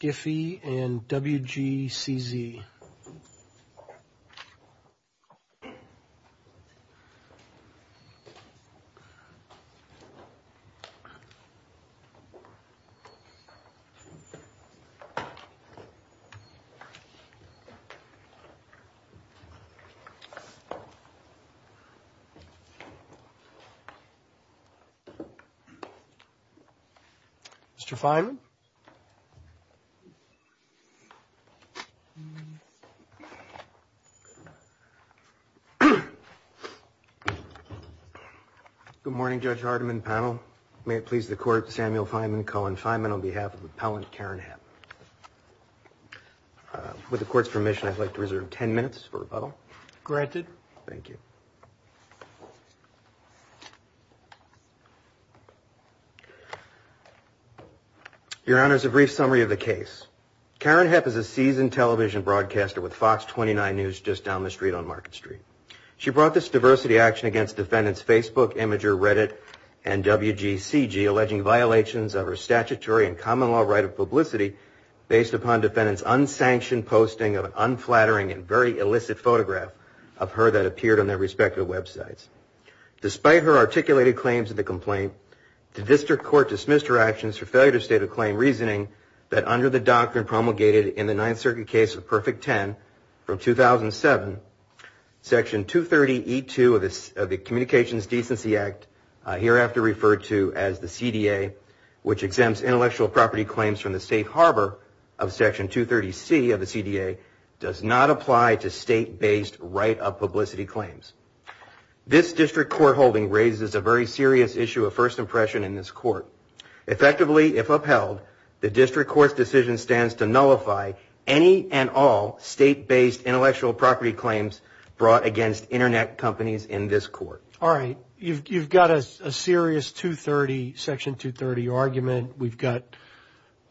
Giphy and WGCZ. Mr. Feynman? Good morning, Judge Hardiman, panel. May it please the Court, Samuel Feynman, Colin Feynman, on behalf of Appellant Karen Hepp. With the Court's permission, I'd like to reserve ten minutes for rebuttal. Granted. Your Honor, a brief summary of the case. Karen Hepp is a seasoned television broadcaster with Fox 29 News just down the street on Market Street. She brought this diversity action against defendants Facebook, Imgur, Reddit, and WGCZ, alleging violations of her statutory and common law right of publicity based upon defendants' unsanctioned posting of an unflattering and very illicit photograph of her that appeared on their respective websites. Despite her articulated claims in the complaint, the District Court dismissed her actions for failure to state a claim reasoning that under the doctrine promulgated in the Ninth Circuit case of Perfect Ten from 2007, Section 230E2 of the Communications Decency Act, hereafter referred to as the CDA, which exempts intellectual property claims from the safe harbor of Section 230C of the CDA, does not apply to state-based right of publicity claims. This District Court holding raises a very serious issue of first impression in this Court. Effectively, if upheld, the District Court's decision stands to nullify any and all state-based intellectual property claims brought against Internet companies in this Court. All right. You've got a serious Section 230 argument. We've got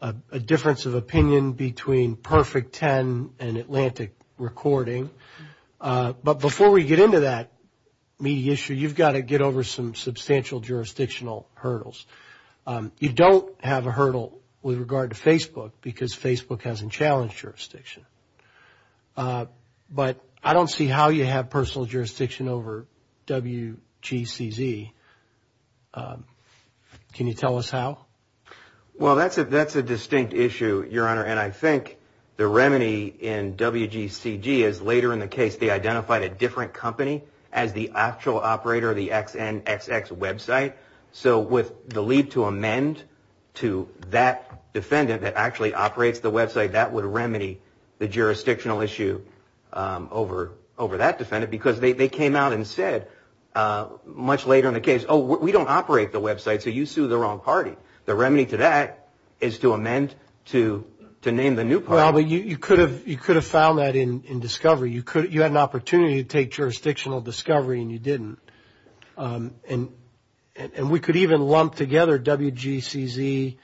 a difference of opinion between Perfect Ten and Atlantic Recording. But before we get into that meaty issue, you've got to get over some substantial jurisdictional hurdles. You don't have a hurdle with regard to Facebook because Facebook hasn't challenged jurisdiction. But I don't see how you have personal jurisdiction over WGCZ. Can you tell us how? Well, that's a distinct issue, Your Honor, and I think the remedy in WGCZ is later in the case they identified a different company as the actual operator of the XNXX website. So with the leap to amend to that defendant that actually operates the website, that would remedy the jurisdictional issue over that defendant because they came out and said, much later in the case, oh, we don't operate the website, so you sued the wrong party. The remedy to that is to amend to name the new party. Well, you could have found that in discovery. You had an opportunity to take jurisdictional discovery and you didn't. And we could even lump together WGCZ,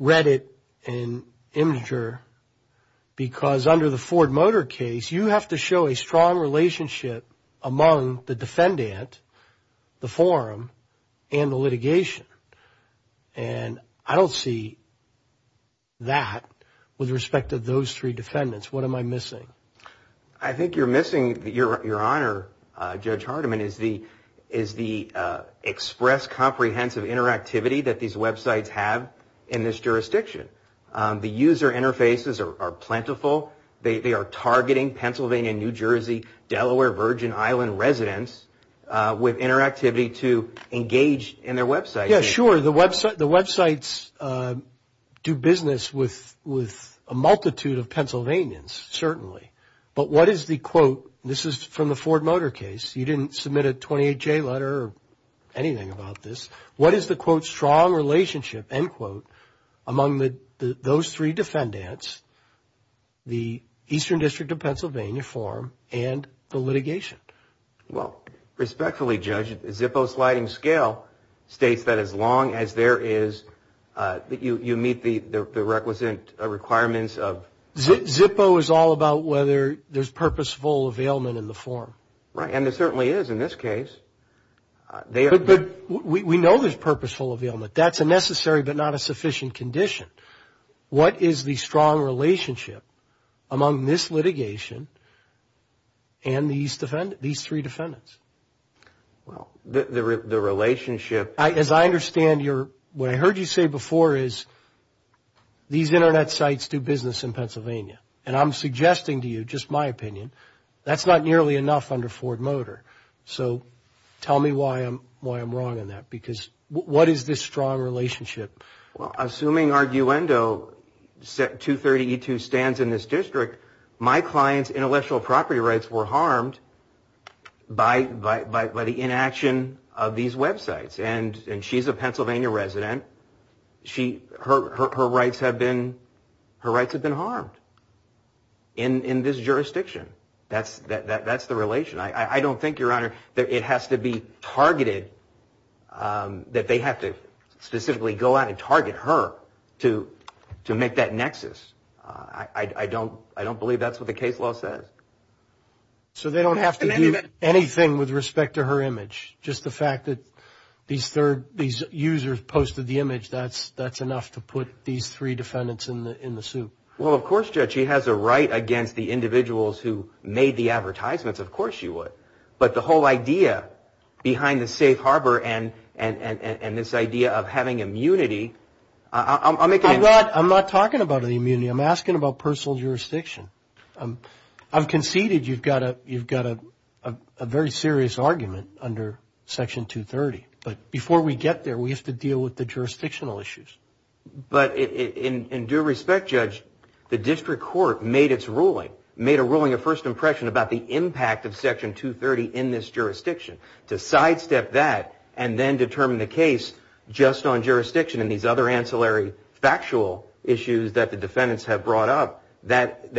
Reddit, and Imgur because under the Ford Motor case, you have to show a strong relationship among the defendant, the forum, and the litigation. And I don't see that with respect to those three defendants. What am I missing? I think you're missing, Your Honor, Judge Hardiman, is the express comprehensive interactivity that these websites have in this jurisdiction. The user interfaces are plentiful. They are targeting Pennsylvania, New Jersey, Delaware, Virgin Island residents with interactivity to engage in their website. Yeah, sure, the websites do business with a multitude of Pennsylvanians, certainly. But what is the, quote, this is from the Ford Motor case. You didn't submit a 28-J letter or anything about this. What is the, quote, strong relationship, end quote, among those three defendants, the Eastern District of Pennsylvania forum, and the litigation? Well, respectfully, Judge, Zippo's sliding scale states that as long as there is, that you meet the requisite requirements of... Zippo is all about whether there's purposeful availment in the forum. Right, and there certainly is in this case. But we know there's purposeful availment. That's a necessary but not a sufficient condition. What is the strong relationship among this litigation and these three defendants? Well, the relationship... As I understand, what I heard you say before is these Internet sites do business in Pennsylvania. And I'm suggesting to you, just my opinion, that's not nearly enough under Ford Motor. So tell me why I'm wrong on that, because what is this strong relationship? Well, assuming Arguendo 230E2 stands in this district, my client's intellectual property rights were harmed by the inaction of these websites. And she's a Pennsylvania resident. Her rights have been harmed in this jurisdiction. That's the relation. I don't think, Your Honor, that it has to be targeted, that they have to specifically go out and target her to make that nexus. I don't believe that's what the case law says. So they don't have to do anything with respect to her image? Just the fact that these users posted the image, that's enough to put these three defendants in the suit? Well, of course, Judge, she has a right against the individuals who made the advertisements. Of course, she would. But the whole idea behind the safe harbor and this idea of having immunity, I'll make an impression. I'm not talking about immunity. I'm asking about personal jurisdiction. I've conceded you've got a very serious argument under Section 230. But before we get there, we have to deal with the jurisdictional issues. But in due respect, Judge, the district court made its ruling, made a ruling of first impression about the impact of Section 230 in this jurisdiction. To sidestep that and then determine the case just on jurisdiction and these other ancillary factual issues that the defendants have brought up, that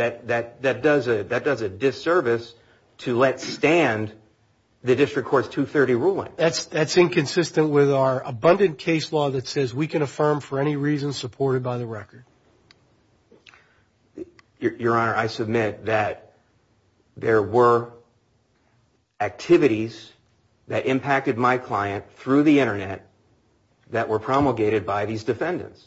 does a disservice to let stand the district court's 230 ruling. That's inconsistent with our abundant case law that says we can affirm for any reason supported by the record. Your Honor, I submit that there were activities that impacted my client through the Internet that were promulgated by these defendants.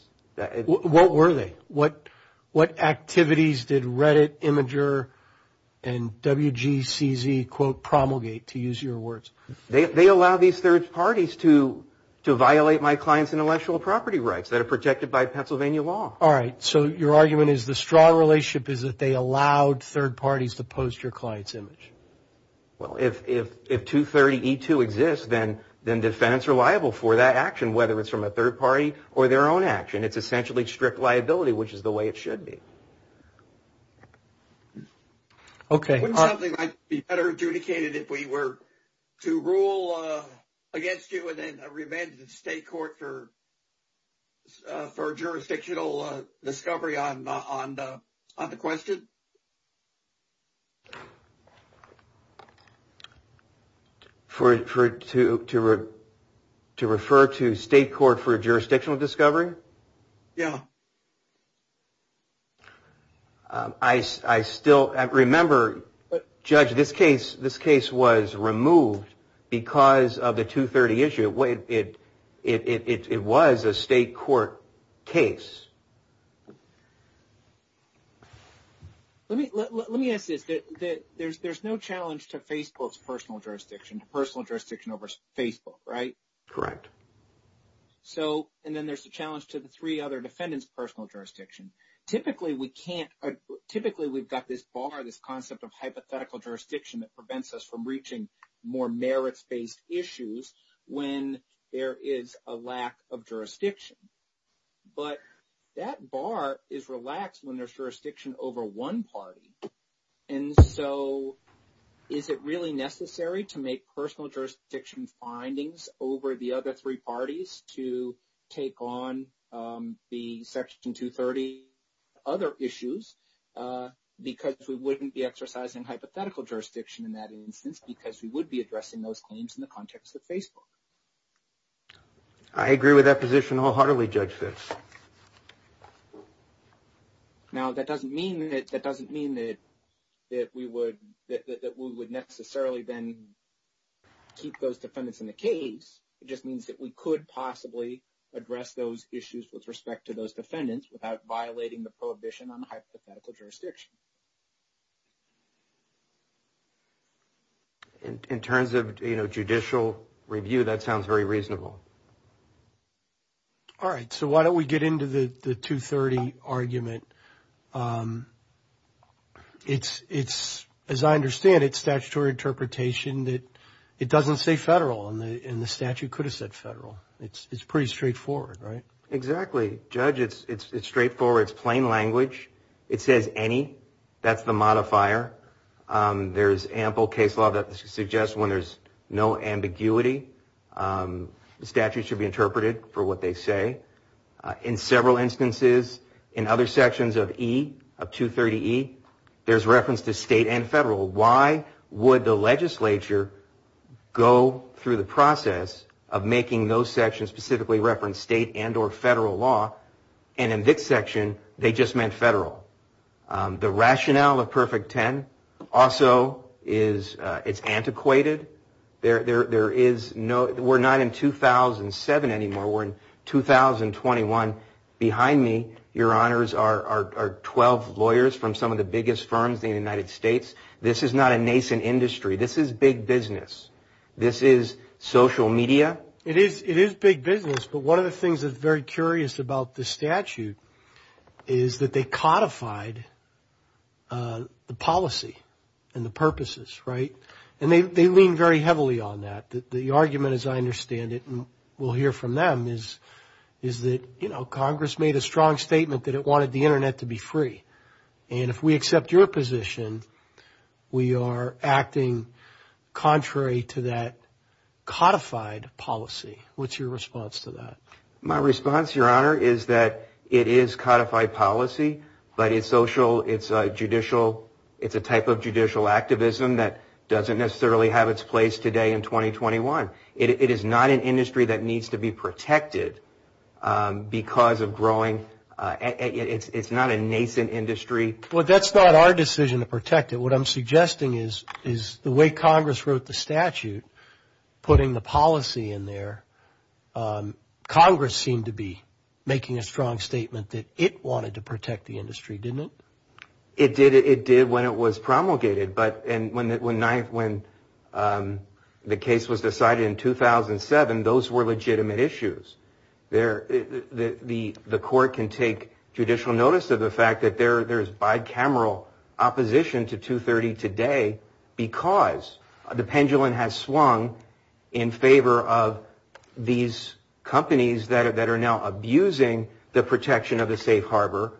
What were they? What activities did Reddit, Imgur, and WGCZ, quote, promulgate, to use your words? They allow these third parties to violate my client's intellectual property rights that are protected by Pennsylvania law. All right. So your argument is the straw relationship is that they allowed third parties to post your client's image. Well, if 230E2 exists, then defendants are liable for that action, whether it's from a third party or their own action. It's essentially strict liability, which is the way it should be. Okay. Honestly, it might be better adjudicated if we were to rule against you and then remand you to state court for jurisdictional discovery on the question? To refer to state court for jurisdictional discovery? Yeah. I still remember, Judge, this case was removed because of the 230 issue. It was a state court case. Let me ask this. There's no challenge to Facebook's personal jurisdiction, personal jurisdiction over Facebook, right? Correct. And then there's the challenge to the three other defendants' personal jurisdictions. Typically, we've got this bar, this concept of hypothetical jurisdiction that prevents us from reaching more merits-based issues when there is a lack of jurisdiction. But that bar is relaxed when there's jurisdiction over one party. And so is it really necessary to make personal jurisdiction findings over the other three parties to take on the Section 230 other issues because we wouldn't be exercising hypothetical jurisdiction in that instance because we would be addressing those claims in the context of Facebook? I agree with that position wholeheartedly, Judge Fitz. Now, that doesn't mean that we would necessarily then keep those defendants in the case. It just means that we could possibly address those issues with respect to those defendants without violating the prohibition on the hypothetical jurisdiction. In terms of judicial review, that sounds very reasonable. All right. So why don't we get into the 230 argument. It's, as I understand it, statutory interpretation that it doesn't say federal and the statute could have said federal. It's pretty straightforward, right? Exactly. Judge, it's straightforward. It's plain language. It says any. That's the modifier. There's ample case law that suggests when there's no ambiguity. The statute should be interpreted for what they say. In several instances, in other sections of E, of 230E, there's reference to state and federal. Why would the legislature go through the process of making those sections specifically reference state and or federal law? And in this section, they just meant federal. The rationale of Perfect Ten also is antiquated. We're not in 2007 anymore. We're in 2021. Behind me, your honors, are 12 lawyers from some of the biggest firms in the United States. This is not a nascent industry. This is big business. This is social media. It is big business, but one of the things that's very curious about the statute is that they codified the policy and the purposes, right? And they lean very heavily on that. The argument, as I understand it, and we'll hear from them, is that, you know, Congress made a strong statement that it wanted the Internet to be free. And if we accept your position, we are acting contrary to that codified policy. What's your response to that? My response, your honor, is that it is codified policy, but it's social, it's judicial, it's a type of judicial activism that doesn't necessarily have its place today in 2021. It is not an industry that needs to be protected because of growing, it's not a nascent industry. Well, that's not our decision to protect it. What I'm suggesting is the way Congress wrote the statute, putting the policy in there, Congress seemed to be making a strong statement that it wanted to protect the industry, didn't it? It did when it was promulgated, but when the case was decided in 2007, those were legitimate issues. The court can take judicial notice of the fact that there's bicameral opposition to 230 today because the pendulum has swung in favor of these companies that are now abusing the protection of the safe harbor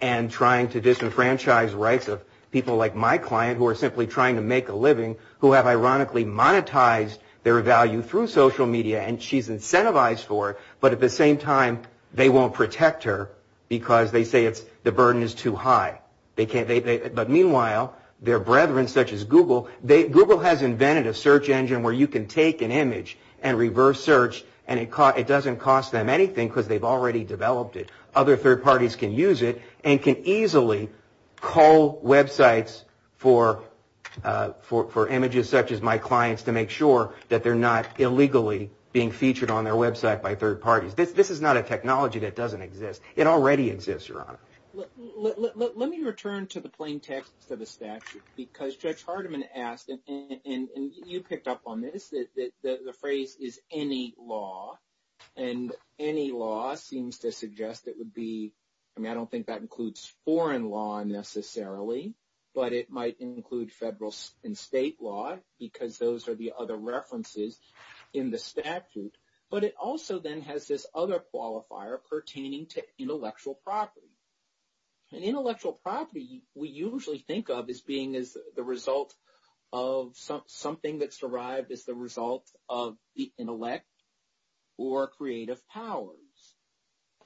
and trying to disenfranchise rights of people like my client who are simply trying to make a living who have ironically monetized their value through social media and she's incentivized for it, but at the same time they won't protect her because they say the burden is too high. But meanwhile, their brethren such as Google, Google has invented a search engine where you can take an image and reverse search and it doesn't cost them anything because they've already developed it. Other third parties can use it and can easily call websites for images such as my client's to make sure that they're not illegally being featured on their website by third parties. This is not a technology that doesn't exist. It already exists, Your Honor. Let me return to the plain text of the statute because Judge Hardiman asked, and you picked up on this, that the phrase is any law and any law seems to suggest it would be, I mean I don't think that includes foreign law necessarily, but it might include federal and state law because those are the other references in the statute. But it also then has this other qualifier pertaining to intellectual property. And intellectual property we usually think of as being the result of something that survived as the result of the intellect or creative powers.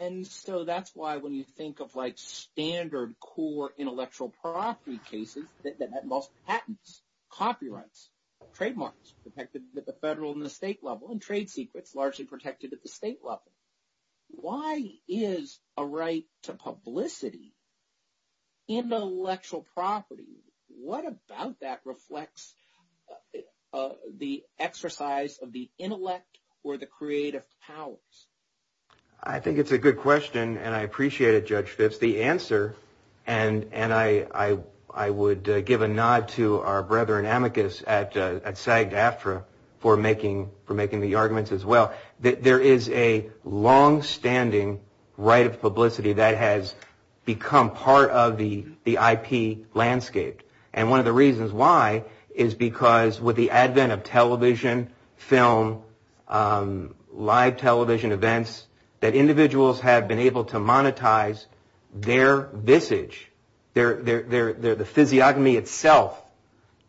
And so that's why when you think of like standard core intellectual property cases that involves patents, copyrights, trademarks protected at the federal and the state level, and trade secrets largely protected at the state level. Why is a right to publicity intellectual property? What about that reflects the exercise of the intellect or the creative powers? I think it's a good question, and I appreciate it, Judge Fitts, the answer. And I would give a nod to our brethren amicus at SAG-DAFRA for making the arguments as well. There is a longstanding right of publicity that has become part of the IP landscape. And one of the reasons why is because with the advent of television, film, live television events, that individuals have been able to monetize their visage, the physiognomy itself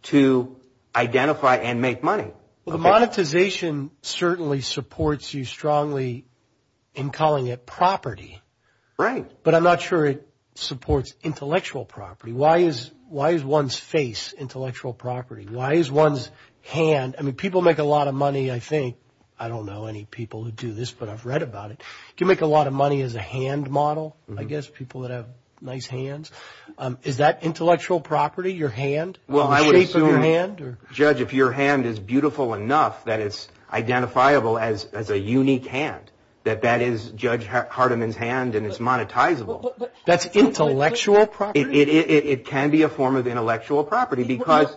to identify and make money. Well, the monetization certainly supports you strongly in calling it property. Right. But I'm not sure it supports intellectual property. Why is one's face intellectual property? Why is one's hand? I mean, people make a lot of money, I think. I don't know any people who do this, but I've read about it. You make a lot of money as a hand model, I guess, people that have nice hands. Is that intellectual property, your hand, the shape of your hand? Judge, if your hand is beautiful enough that it's identifiable as a unique hand, that that is Judge Hardiman's hand and it's monetizable. That's intellectual property? It can be a form of intellectual property because…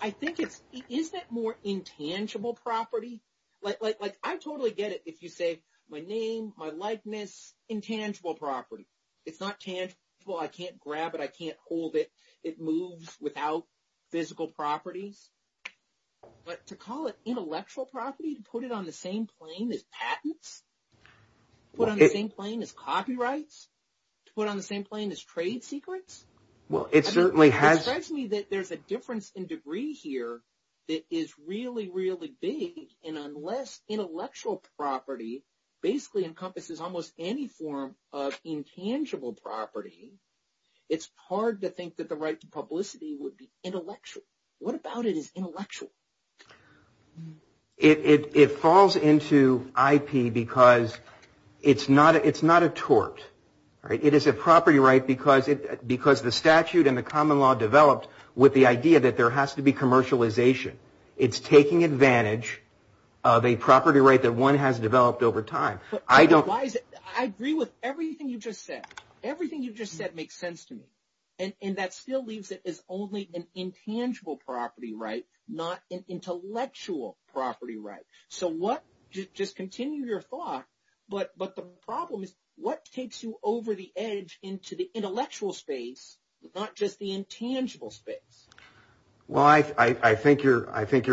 I think it's – isn't it more intangible property? Like, I totally get it if you say, my name, my likeness, intangible property. It's not tangible. I can't grab it. I can't hold it. It moves without physical property. But to call it intellectual property and put it on the same plane as patents? Put on the same plane as copyrights? Put on the same plane as trade secrets? Well, it certainly has – It strikes me that there's a difference in degree here that is really, really big. And unless intellectual property basically encompasses almost any form of intangible property, it's hard to think that the right to publicity would be intellectual. What about it is intellectual? It falls into IP because it's not a tort. It is a property right because the statute and the common law developed with the idea that there has to be commercialization. It's taking advantage of a property right that one has developed over time. I don't – I agree with everything you just said. Everything you just said makes sense to me. And that still leaves it as only an intangible property right, not an intellectual property right. So what – just continue your thought, but the problem is what takes you over the edge into the intellectual space, not just the intangible space? Well, I think your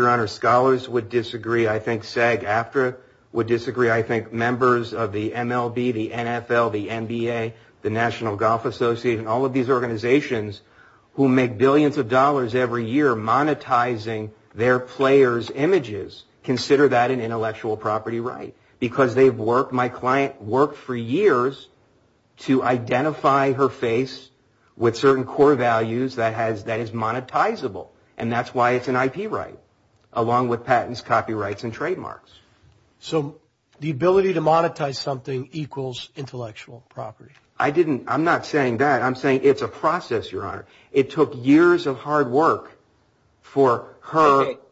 honor, scholars would disagree. I think SAG-AFTRA would disagree. I think members of the MLB, the NFL, the NBA, the National Golf Association, all of these organizations who make billions of dollars every year monetizing their players' images consider that an intellectual property right. My client worked for years to identify her face with certain core values that is monetizable, and that's why it's an IP right, along with patents, copyrights, and trademarks. So the ability to monetize something equals intellectual property. I'm not saying that. I'm saying it's a process, your honor. It took years of hard work for her –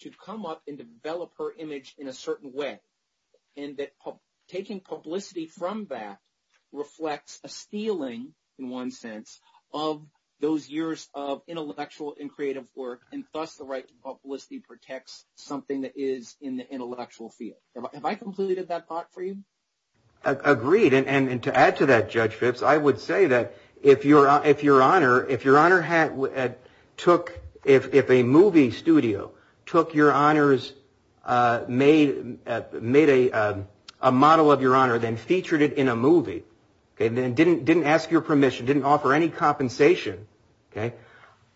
to come up and develop her image in a certain way, and that taking publicity from that reflects a stealing, in one sense, of those years of intellectual and creative work, and thus the right to publicity protects something that is in the intellectual field. Have I completed that thought for you? Agreed. And to add to that, Judge Phipps, I would say that if your honor took – if a movie studio took your honor's – made a model of your honor and then featured it in a movie and then didn't ask your permission, didn't offer any compensation,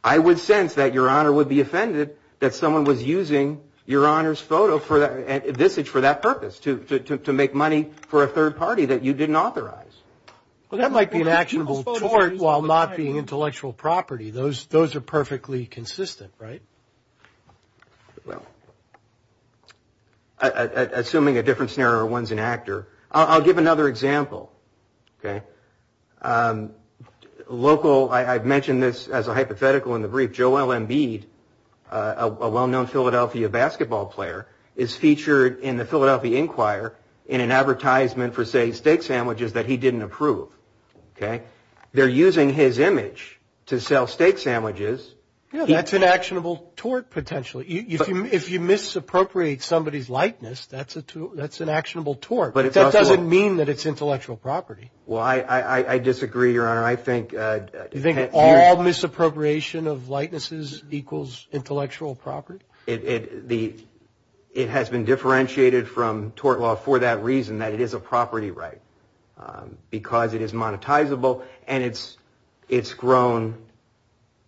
I would sense that your honor would be offended that someone was using your honor's photo for that purpose, to make money for a third party that you didn't authorize. Well, that might be an actionable choice while not being intellectual property. Those are perfectly consistent, right? Well, assuming a different scenario, one's an actor. I'll give another example. Local – I've mentioned this as a hypothetical in the brief. Joel Embiid, a well-known Philadelphia basketball player, is featured in the Philadelphia Inquirer in an advertisement for, say, steak sandwiches that he didn't approve. They're using his image to sell steak sandwiches. Yeah, that's an actionable tort, potentially. If you misappropriate somebody's likeness, that's an actionable tort. That doesn't mean that it's intellectual property. Well, I disagree, your honor. I think – You think all misappropriation of likenesses equals intellectual property? It has been differentiated from tort law for that reason, that it is a property right, because it is monetizable and it's grown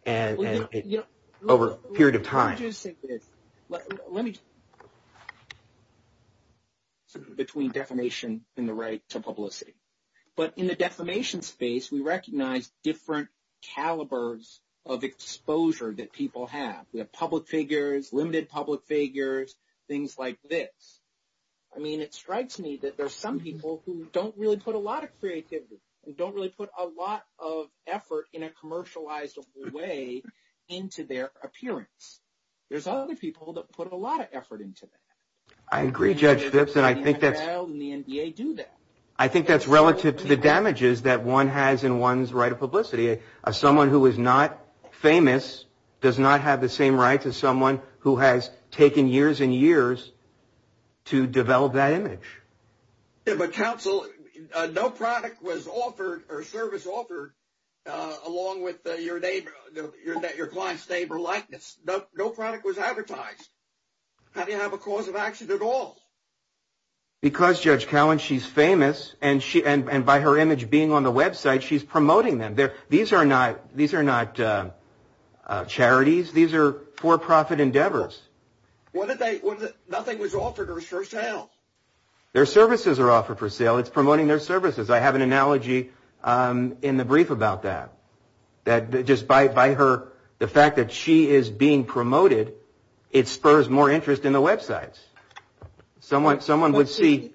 over a period of time. Let me – between defamation and the right to publicity. But in the defamation space, we recognize different calibers of exposure that people have. We have public figures, limited public figures, things like this. I mean, it strikes me that there are some people who don't really put a lot of creativity, who don't really put a lot of effort in a commercializable way into their appearance. There's other people that put a lot of effort into it. I agree, Judge Phipps, and I think that's – And the NDA do that. I think that's relative to the damages that one has in one's right of publicity. Someone who is not famous does not have the same right as someone who has taken years and years to develop that image. Yeah, but counsel, no product was offered or service offered along with your client's name or likeness. No product was advertised. How do you have a cause of action at all? Because, Judge Cowan, she's famous, and by her image being on the website, she's promoting them. These are not charities. These are for-profit endeavors. Nothing was offered for sale. Their services are offered for sale. It's promoting their services. I have an analogy in the brief about that, that just by her – the fact that she is being promoted, it spurs more interest in the websites. Someone would see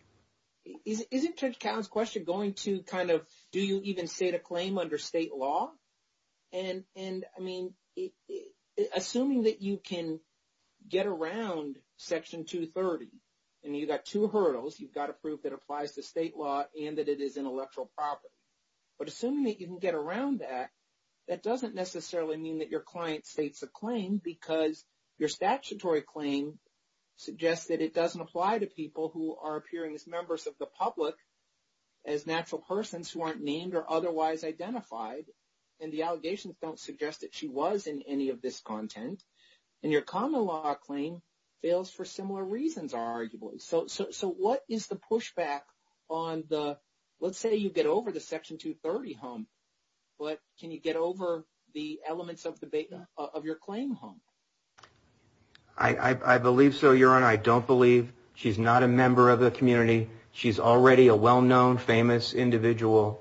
– Isn't Judge Cowan's question going to kind of do you even state a claim under state law? And, I mean, assuming that you can get around Section 230, and you've got two hurdles. You've got to prove it applies to state law and that it is intellectual property. But assuming that you can get around that, that doesn't necessarily mean that your client states a claim because your statutory claim suggests that it doesn't apply to people who are appearing as members of the NDA. The public, as natural persons who aren't named or otherwise identified, and the allegations don't suggest that she was in any of this content. And your common law claim fails for similar reasons, arguably. So what is the pushback on the – let's say you get over the Section 230 hump, but can you get over the elements of your claim hump? I believe so, Your Honor. I don't believe she's not a member of the community. She's already a well-known, famous individual.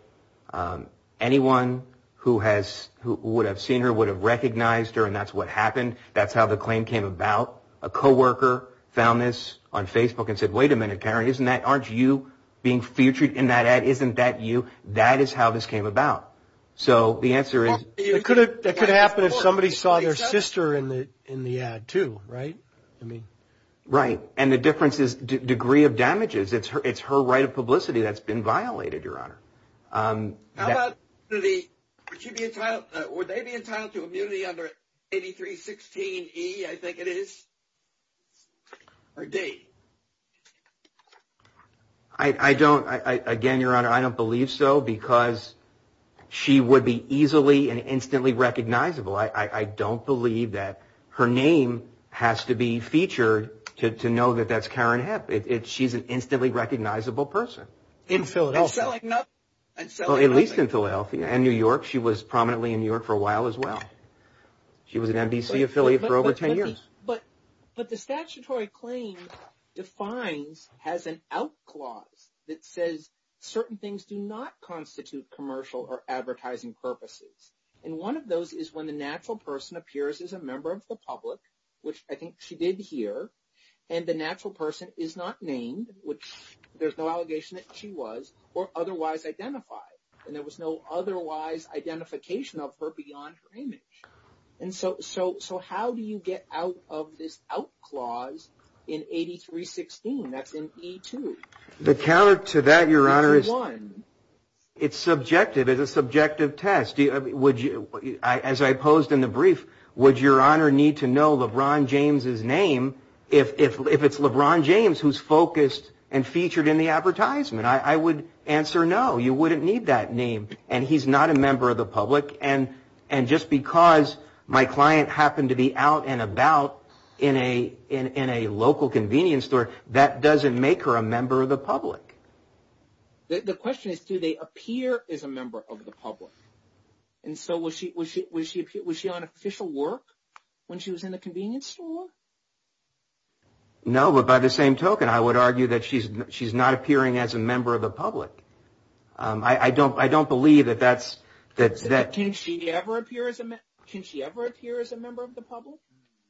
Anyone who has – who would have seen her would have recognized her, and that's what happened. That's how the claim came about. A co-worker found this on Facebook and said, wait a minute, Taryn, isn't that – aren't you being featured in that ad? Isn't that you? That is how this came about. So the answer is – It could have – it could happen if somebody saw their sister in the ad, too, right? Right. And the difference is degree of damages. It's her right of publicity that's been violated, Your Honor. How about the – would she be entitled – would they be entitled to immunity under 8316E, I think it is, or D? I don't – again, Your Honor, I don't believe so because she would be easily and instantly recognizable. I don't believe that her name has to be featured to know that that's Karen Hepp. She's an instantly recognizable person. In Philadelphia. At least in Philadelphia. And New York. She was prominently in New York for a while as well. She was an NBC affiliate for over 10 years. But the statutory claim defines – has an out clause that says certain things do not constitute commercial or advertising purposes. And one of those is when the natural person appears as a member of the public, which I think she did here, and the natural person is not named, which there's no allegation that she was, or otherwise identified. And there was no otherwise identification of her beyond her image. And so how do you get out of this out clause in 8316, that's in E2? The carrot to that, Your Honor, is subjective. It's a subjective test. As I posed in the brief, would Your Honor need to know LeBron James' name if it's LeBron James who's focused and featured in the advertisement? I would answer no. You wouldn't need that name. And he's not a member of the public. And just because my client happened to be out and about in a local convenience store, that doesn't make her a member of the public. The question is, do they appear as a member of the public? And so was she on official work when she was in the convenience store? No, but by the same token, I would argue that she's not appearing as a member of the public. I don't believe that that's – Can she ever appear as a member of the public?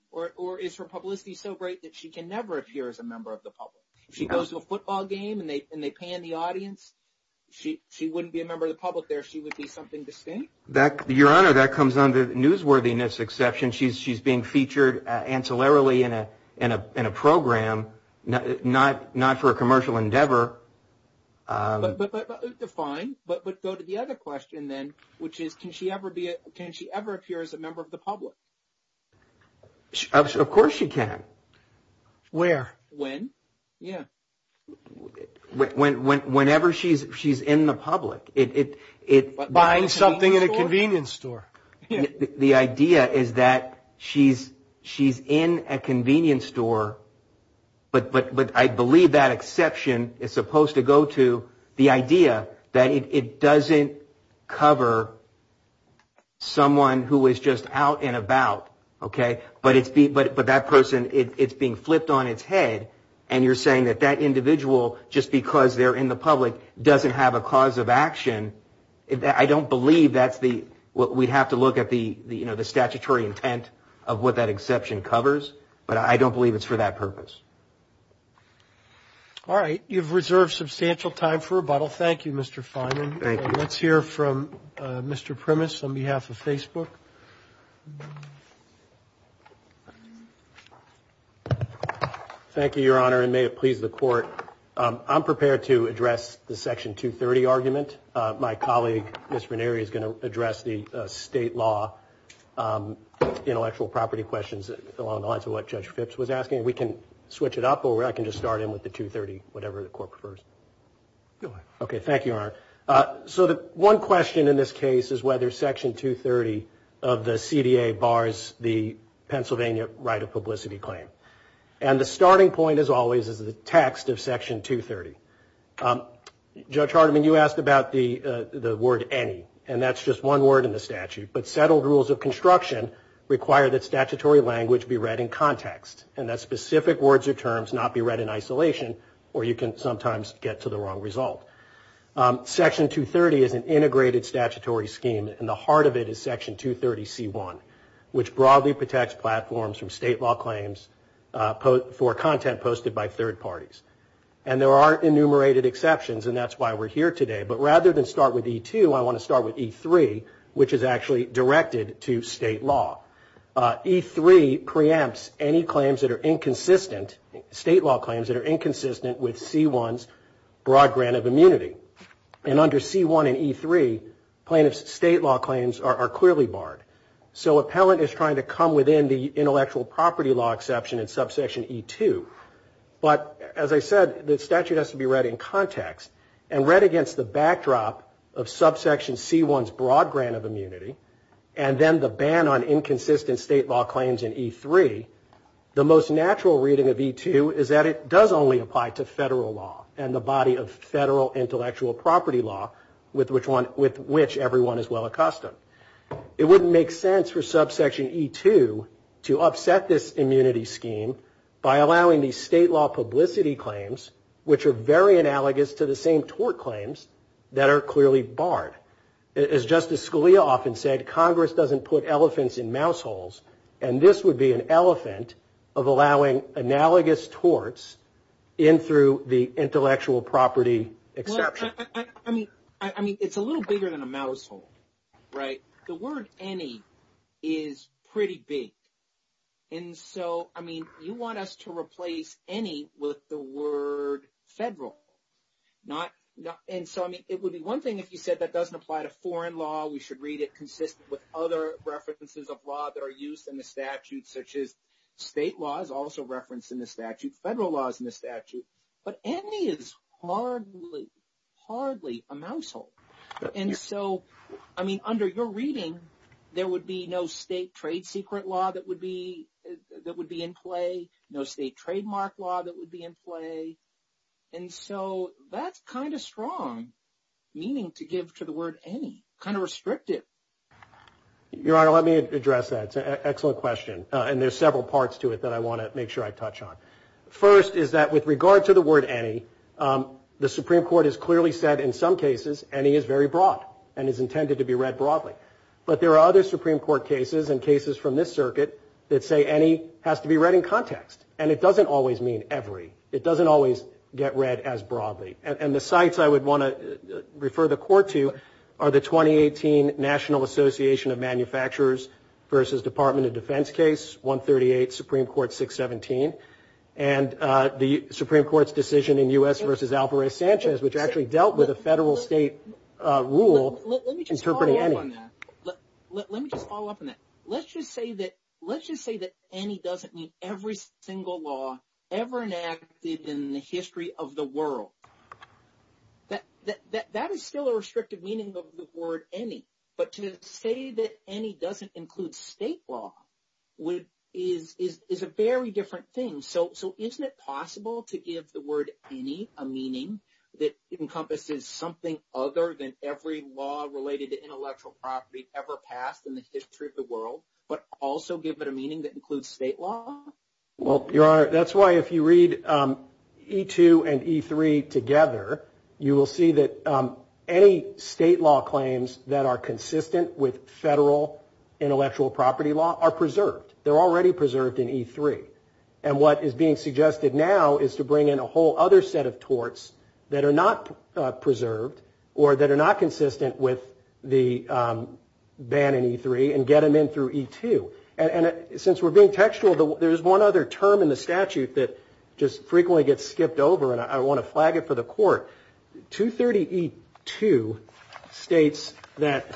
Or is her publicity so great that she can never appear as a member of the public? If she goes to a football game and they pan the audience, she wouldn't be a member of the public there. She would be something distinct. Your Honor, that comes under newsworthiness exception. She's being featured ancillarily in a program, not for a commercial endeavor. But that is defined. But let's go to the other question then, which is, can she ever appear as a member of the public? Of course she can. Where? When? Yeah. Whenever she's in the public. Buying something in a convenience store. The idea is that she's in a convenience store. But I believe that exception is supposed to go to the idea that it doesn't cover someone who is just out and about. But that person, it's being flipped on its head. And you're saying that that individual, just because they're in the public, doesn't have a cause of action. I don't believe that's what we have to look at the statutory intent of what that exception covers. But I don't believe it's for that purpose. All right. You've reserved substantial time for rebuttal. Thank you, Mr. Finan. Thank you. Let's hear from Mr. Primus on behalf of Facebook. Thank you, Your Honor, and may it please the Court. I'm prepared to address the Section 230 argument. My colleague, Mr. McNary, is going to address the state law intellectual property questions along the lines of what Judge Phipps was asking. We can switch it up, or I can just start in with the 230, whatever the Court prefers. Go ahead. Okay. Thank you, Your Honor. So one question in this case is whether Section 230 of the CDA bars the Pennsylvania right of publicity claim. And the starting point, as always, is the text of Section 230. Judge Hardiman, you asked about the word any, and that's just one word in the statute. But settled rules of construction require that statutory language be read in context and that specific words or terms not be read in isolation, or you can sometimes get to the wrong result. Section 230 is an integrated statutory scheme, and the heart of it is Section 230C1, which broadly protects platforms from state law claims for content posted by third parties. And there are enumerated exceptions, and that's why we're here today. But rather than start with E2, I want to start with E3, which is actually directed to state law. E3 preempts any state law claims that are inconsistent with C1's broad grant of immunity. And under C1 and E3, plaintiff's state law claims are clearly barred. The appellant is trying to come within the intellectual property law exception in subsection E2. But as I said, the statute has to be read in context, and read against the backdrop of subsection C1's broad grant of immunity, and then the ban on inconsistent state law claims in E3, the most natural reading of E2 is that it does only apply to federal law and the body of federal intellectual property law with which everyone is well accustomed. It wouldn't make sense for subsection E2 to upset this immunity scheme by allowing these state law publicity claims, which are very analogous to the same tort claims, that are clearly barred. As Justice Scalia often said, Congress doesn't put elephants in mouse holes, and this would be an elephant of allowing analogous torts in through the intellectual property exception. I mean, it's a little bigger than a mouse hole, right? The word any is pretty big. And so, I mean, you want us to replace any with the word federal. And so, I mean, it would be one thing if you said that doesn't apply to foreign law, we should read it consistent with other references of law that are used in the statute, such as state law is also referenced in the statute, federal law is in the statute. But any is hardly, hardly a mouse hole. And so, I mean, under your reading, there would be no state trade secret law that would be in play, no state trademark law that would be in play. And so, that's kind of strong meaning to give to the word any, kind of restrictive. Your Honor, let me address that. It's an excellent question, and there's several parts to it that I want to make sure I touch on. First is that with regard to the word any, the Supreme Court has clearly said in some cases any is very broad and is intended to be read broadly. But there are other Supreme Court cases and cases from this circuit that say any has to be read in context, and it doesn't always mean every. It doesn't always get read as broadly. And the sites I would want to refer the Court to are the 2018 National Association of Manufacturers versus Department of Defense case, 138 Supreme Court 617, and the Supreme Court's decision in U.S. versus Alvarez-Sanchez, which actually dealt with a federal state rule interpreting any. Let me just follow up on that. Let's just say that any doesn't mean every single law ever enacted in the history of the world. That is still a restrictive meaning of the word any. But to say that any doesn't include state law is a very different thing. So isn't it possible to give the word any a meaning that encompasses something other than every law related to intellectual property ever passed in the history of the world, but also give it a meaning that includes state law? Well, that's why if you read E2 and E3 together, you will see that any state law claims that are consistent with federal intellectual property law are preserved. They're already preserved in E3. And what is being suggested now is to bring in a whole other set of torts that are not preserved or that are not consistent with the ban in E3 and get them in through E2. And since we're being textual, there's one other term in the statute that just frequently gets skipped over, and I want to flag it for the court. 230E2 states that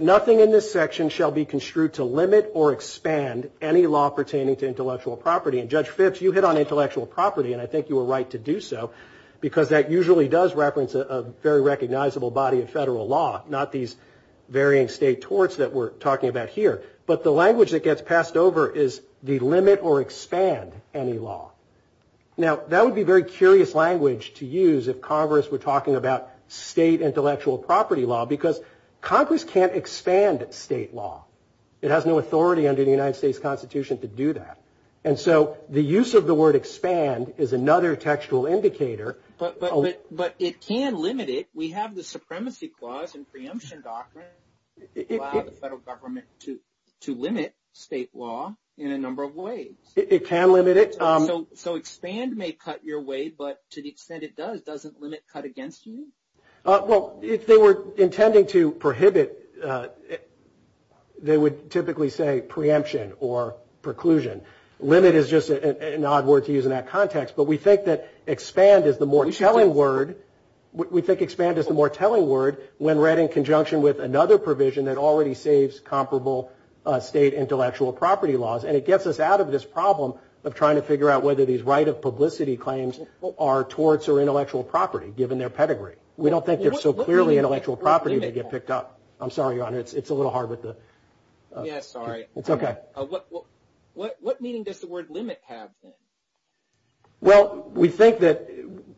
nothing in this section shall be construed to limit or expand any law pertaining to intellectual property. And Judge Phipps, you hit on intellectual property, and I think you were right to do so, because that usually does reference a very recognizable body of federal law, not these varying state torts that we're talking about here. But the language that gets passed over is delimit or expand any law. Now, that would be very curious language to use if Congress were talking about state intellectual property law, because Congress can't expand state law. It has no authority under the United States Constitution to do that. And so the use of the word expand is another textual indicator. But it can limit it. We have the supremacy clause in preemption doctrine that allows the federal government to limit state law in a number of ways. It can limit it. So expand may cut your way, but to the extent it does, doesn't limit cut against you? Well, if they were intending to prohibit, they would typically say preemption or preclusion. Limit is just an odd word to use in that context. But we think that expand is the more telling word when read in conjunction with another provision that already saves comparable state intellectual property laws. And it gets us out of this problem of trying to figure out whether these right of publicity claims are torts or intellectual property, given their pedigree. We don't think they're so clearly intellectual property to get picked up. I'm sorry, Ron, it's a little hard with the ‑‑ Yeah, sorry. It's okay. What meaning does the word limit have? Well, we think that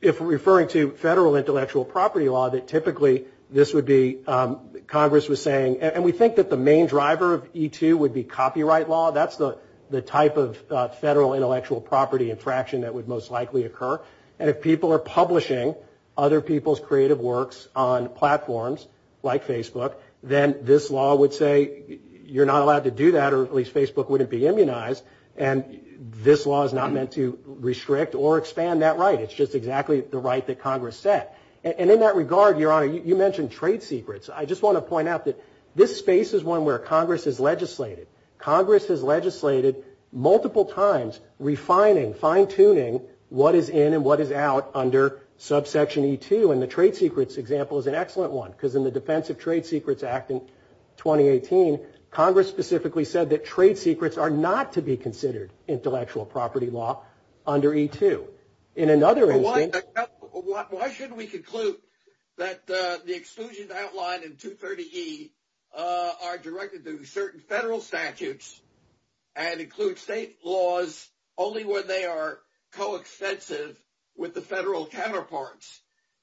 if referring to federal intellectual property law, that typically this would be ‑‑ Congress was saying, and we think that the main driver of E2 would be copyright law. That's the type of federal intellectual property infraction that would most likely occur. And if people are publishing other people's creative works on platforms like Facebook, then this law would say you're not allowed to do that or at least Facebook wouldn't be immunized. And this law is not meant to restrict or expand that right. It's just exactly the right that Congress set. And in that regard, Your Honor, you mentioned trade secrets. I just want to point out that this space is one where Congress has legislated. Congress has legislated multiple times refining, fine tuning what is in and what is out under subsection E2. And the trade secrets example is an excellent one. Because in the Defense of Trade Secrets Act in 2018, Congress specifically said that trade secrets are not to be considered intellectual property law under E2. In another instance ‑‑ Why should we conclude that the exclusions outlined in 230E are directed to certain federal statutes and include state laws only when they are coextensive with the federal counterparts?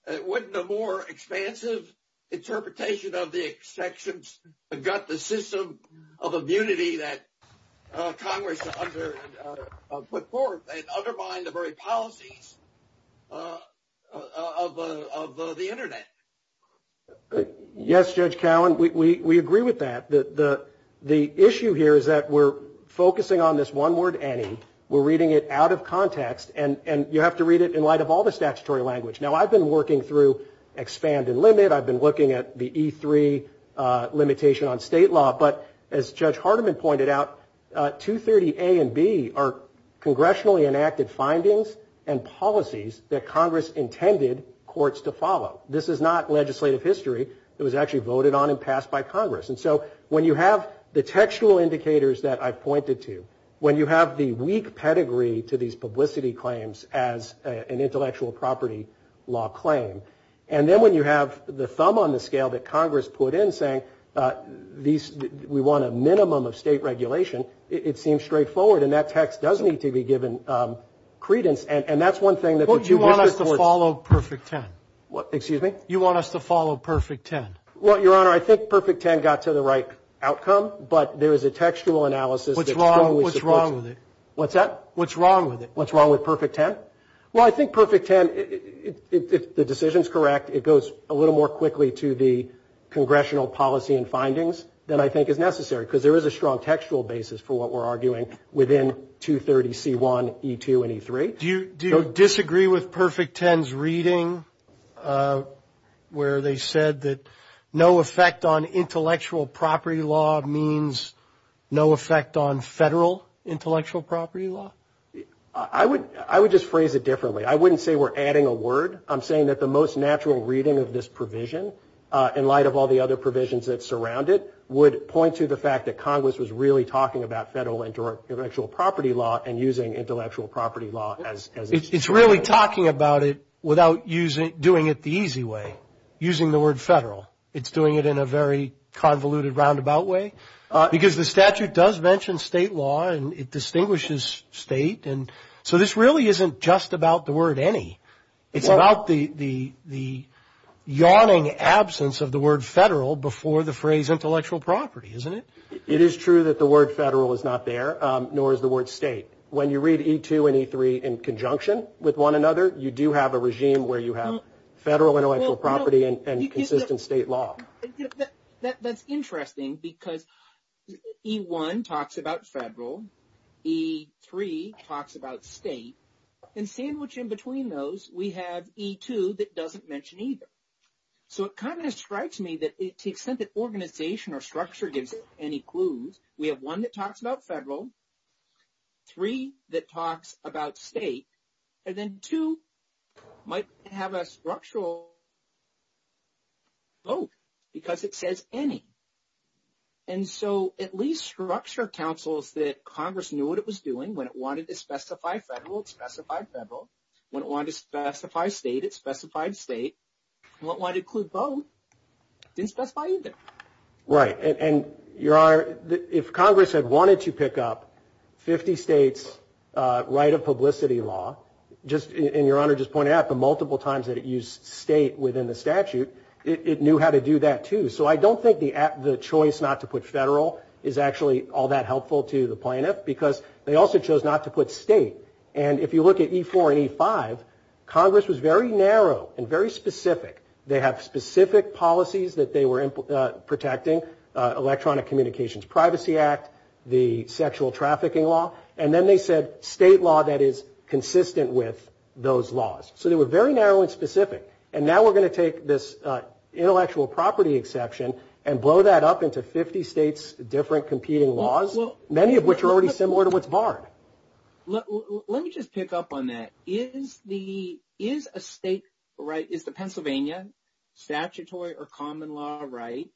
Wouldn't a more expansive interpretation of the exceptions gut the system of immunity that Congress put forth and undermine the very policies of the Internet? Yes, Judge Cowen, we agree with that. The issue here is that we're focusing on this one word, any. We're reading it out of context. And you have to read it in light of all the statutory language. Now, I've been working through expand and limit. I've been looking at the E3 limitation on state law. But as Judge Hardiman pointed out, 230A and 230B are congressionally enacted findings and policies that Congress intended courts to follow. This is not legislative history. It was actually voted on and passed by Congress. And so when you have the textual indicators that I pointed to, when you have the weak pedigree to these publicity claims as an intellectual property law claim, and then when you have the thumb on the scale that Congress put in saying we want a minimum of state regulation, it seems straightforward. And that text does need to be given credence. And that's one thing. But you want us to follow Perfect 10. Excuse me? You want us to follow Perfect 10. Well, Your Honor, I think Perfect 10 got to the right outcome. But there is a textual analysis. What's wrong with it? What's that? What's wrong with it? What's wrong with Perfect 10? Well, I think Perfect 10, if the decision is correct, it goes a little more quickly to the congressional policy and findings than I think is necessary because there is a strong textual basis for what we're arguing within 230C1, E2, and E3. Do you disagree with Perfect 10's reading where they said that no effect on intellectual property law means no effect on federal intellectual property law? I would just phrase it differently. I wouldn't say we're adding a word. I'm saying that the most natural reading of this provision, in light of all the other provisions that surround it, would point to the fact that Congress was really talking about federal intellectual property law and using intellectual property law as a standard. It's really talking about it without doing it the easy way, using the word federal. It's doing it in a very convoluted roundabout way because the statute does mention state law and it distinguishes state. And so this really isn't just about the word any. It's about the yawning absence of the word federal before the phrase intellectual property, isn't it? It is true that the word federal is not there, nor is the word state. When you read E2 and E3 in conjunction with one another, you do have a regime where you have federal intellectual property and consistent state law. That's interesting because E1 talks about federal, E3 talks about state, and sandwiched in between those we have E2 that doesn't mention either. So it kind of strikes me that to the extent that organization or structure gives us any clues, we have one that talks about federal, three that talks about state, and then two might have a structural vote because it says any. And so at least structure counsels that Congress knew what it was doing, when it wanted to specify federal, it specified federal. When it wanted to specify state, it specified state. When it wanted to include both, it didn't specify either. Right. And if Congress had wanted to pick up 50 states' right of publicity law, and Your Honor just pointed out the multiple times that it used state within the statute, it knew how to do that too. So I don't think the choice not to put federal is actually all that helpful to the plaintiff because they also chose not to put state. And if you look at E4 and E5, Congress was very narrow and very specific. They have specific policies that they were protecting, electronic communications privacy act, the sexual trafficking law, and then they said state law that is consistent with those laws. So they were very narrow and specific. And now we're going to take this intellectual property exception and blow that up into 50 states' different competing laws, many of which are already similar to what's barred. Let me just pick up on that. Is the Pennsylvania statutory or common law right,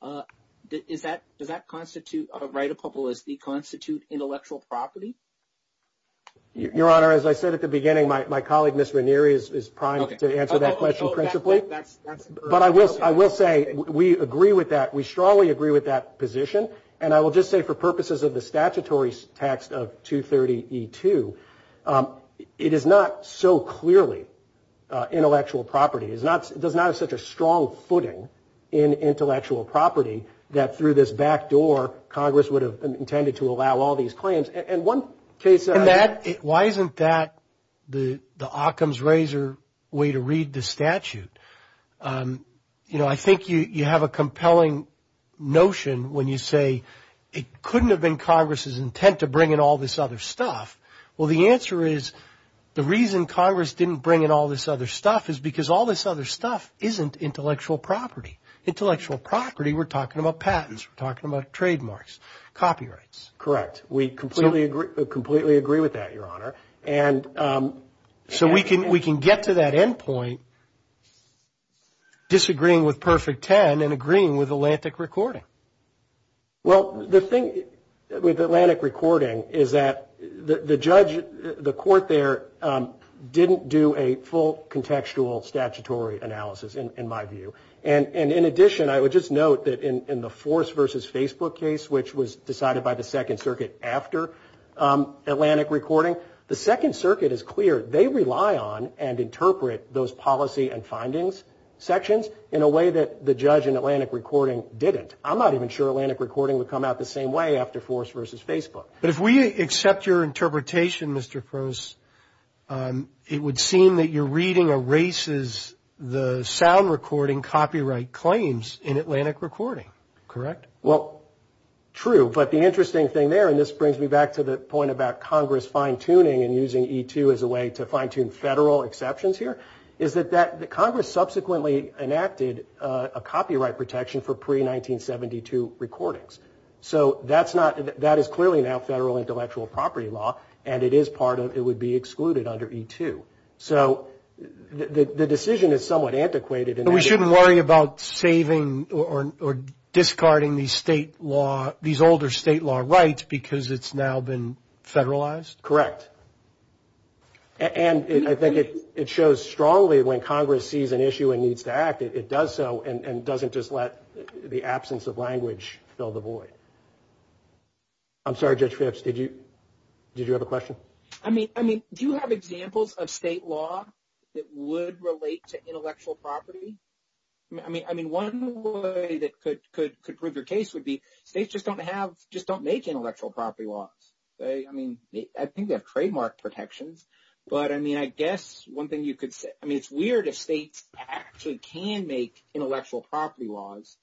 does that constitute right of publicity constitute intellectual property? Your Honor, as I said at the beginning, my colleague, Mr. Neri, is primed to answer that question. But I will say we agree with that. We strongly agree with that position. And I will just say for purposes of the statutory text of 230E2, it is not so clearly intellectual property. It does not have such a strong footing in intellectual property that through this back door, Congress would have intended to allow all these claims. And one case of that why isn't that the Occam's razor way to read the statute? I think you have a compelling notion when you say it couldn't have been Congress' intent to bring in all this other stuff. Well, the answer is the reason Congress didn't bring in all this other stuff is because all this other stuff isn't intellectual property. Intellectual property, we're talking about patents. We're talking about trademarks, copyrights. Correct. We completely agree with that, Your Honor. So we can get to that end point disagreeing with Perfect Ten and agreeing with Atlantic Recording. Well, the thing with Atlantic Recording is that the judge, the court there, didn't do a full contextual statutory analysis in my view. And in addition, I would just note that in the Force v. Facebook case, which was decided by the Second Circuit after Atlantic Recording, the Second Circuit is clear. They rely on and interpret those policy and findings sections in a way that the judge in Atlantic Recording didn't. I'm not even sure Atlantic Recording would come out the same way after Force v. Facebook. But if we accept your interpretation, Mr. Post, it would seem that your reading erases the sound recording copyright claims in Atlantic Recording. Correct? Well, true, but the interesting thing there, and this brings me back to the point about Congress fine-tuning and using E-2 as a way to fine-tune federal exceptions here, is that Congress subsequently enacted a copyright protection for pre-1972 recordings. So that is clearly now federal intellectual property law, and it would be excluded under E-2. So the decision is somewhat antiquated. We shouldn't worry about saving or discarding these older state law rights because it's now been federalized? Correct. And I think it shows strongly when Congress sees an issue and needs to act, it does so and doesn't just let the absence of language fill the void. I'm sorry, Judge Phipps, did you have a question? I mean, do you have examples of state law that would relate to intellectual property? I mean, one way that could prove your case would be states just don't make intellectual property laws. I mean, I think they have trademark protections. But, I mean, I guess one thing you could say, I mean, it's weird if states actually can make intellectual property laws,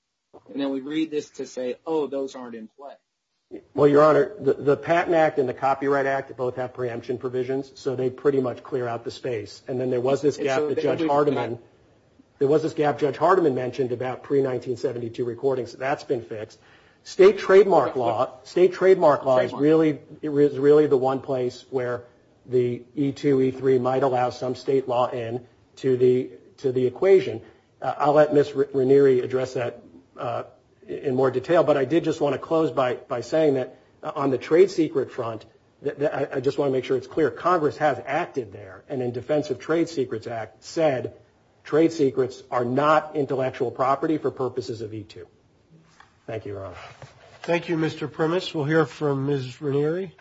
and then we read this to say, oh, those aren't in play. Well, Your Honor, the Patent Act and the Copyright Act both have preemption provisions, so they pretty much clear out the space. And then there was this gap that Judge Hardiman mentioned about pre-1972 recordings. That's been fixed. State trademark law is really the one place where the E-2, E-3 might allow some state law in to the equation. I'll let Ms. Ranieri address that in more detail, but I did just want to close by saying that on the trade secret front, I just want to make sure it's clear, Congress has acted there, and in defense of Trade Secrets Act said trade secrets are not intellectual property for purposes of E-2. Thank you, Your Honor. Thank you, Mr. Primus. We'll hear from Ms. Ranieri.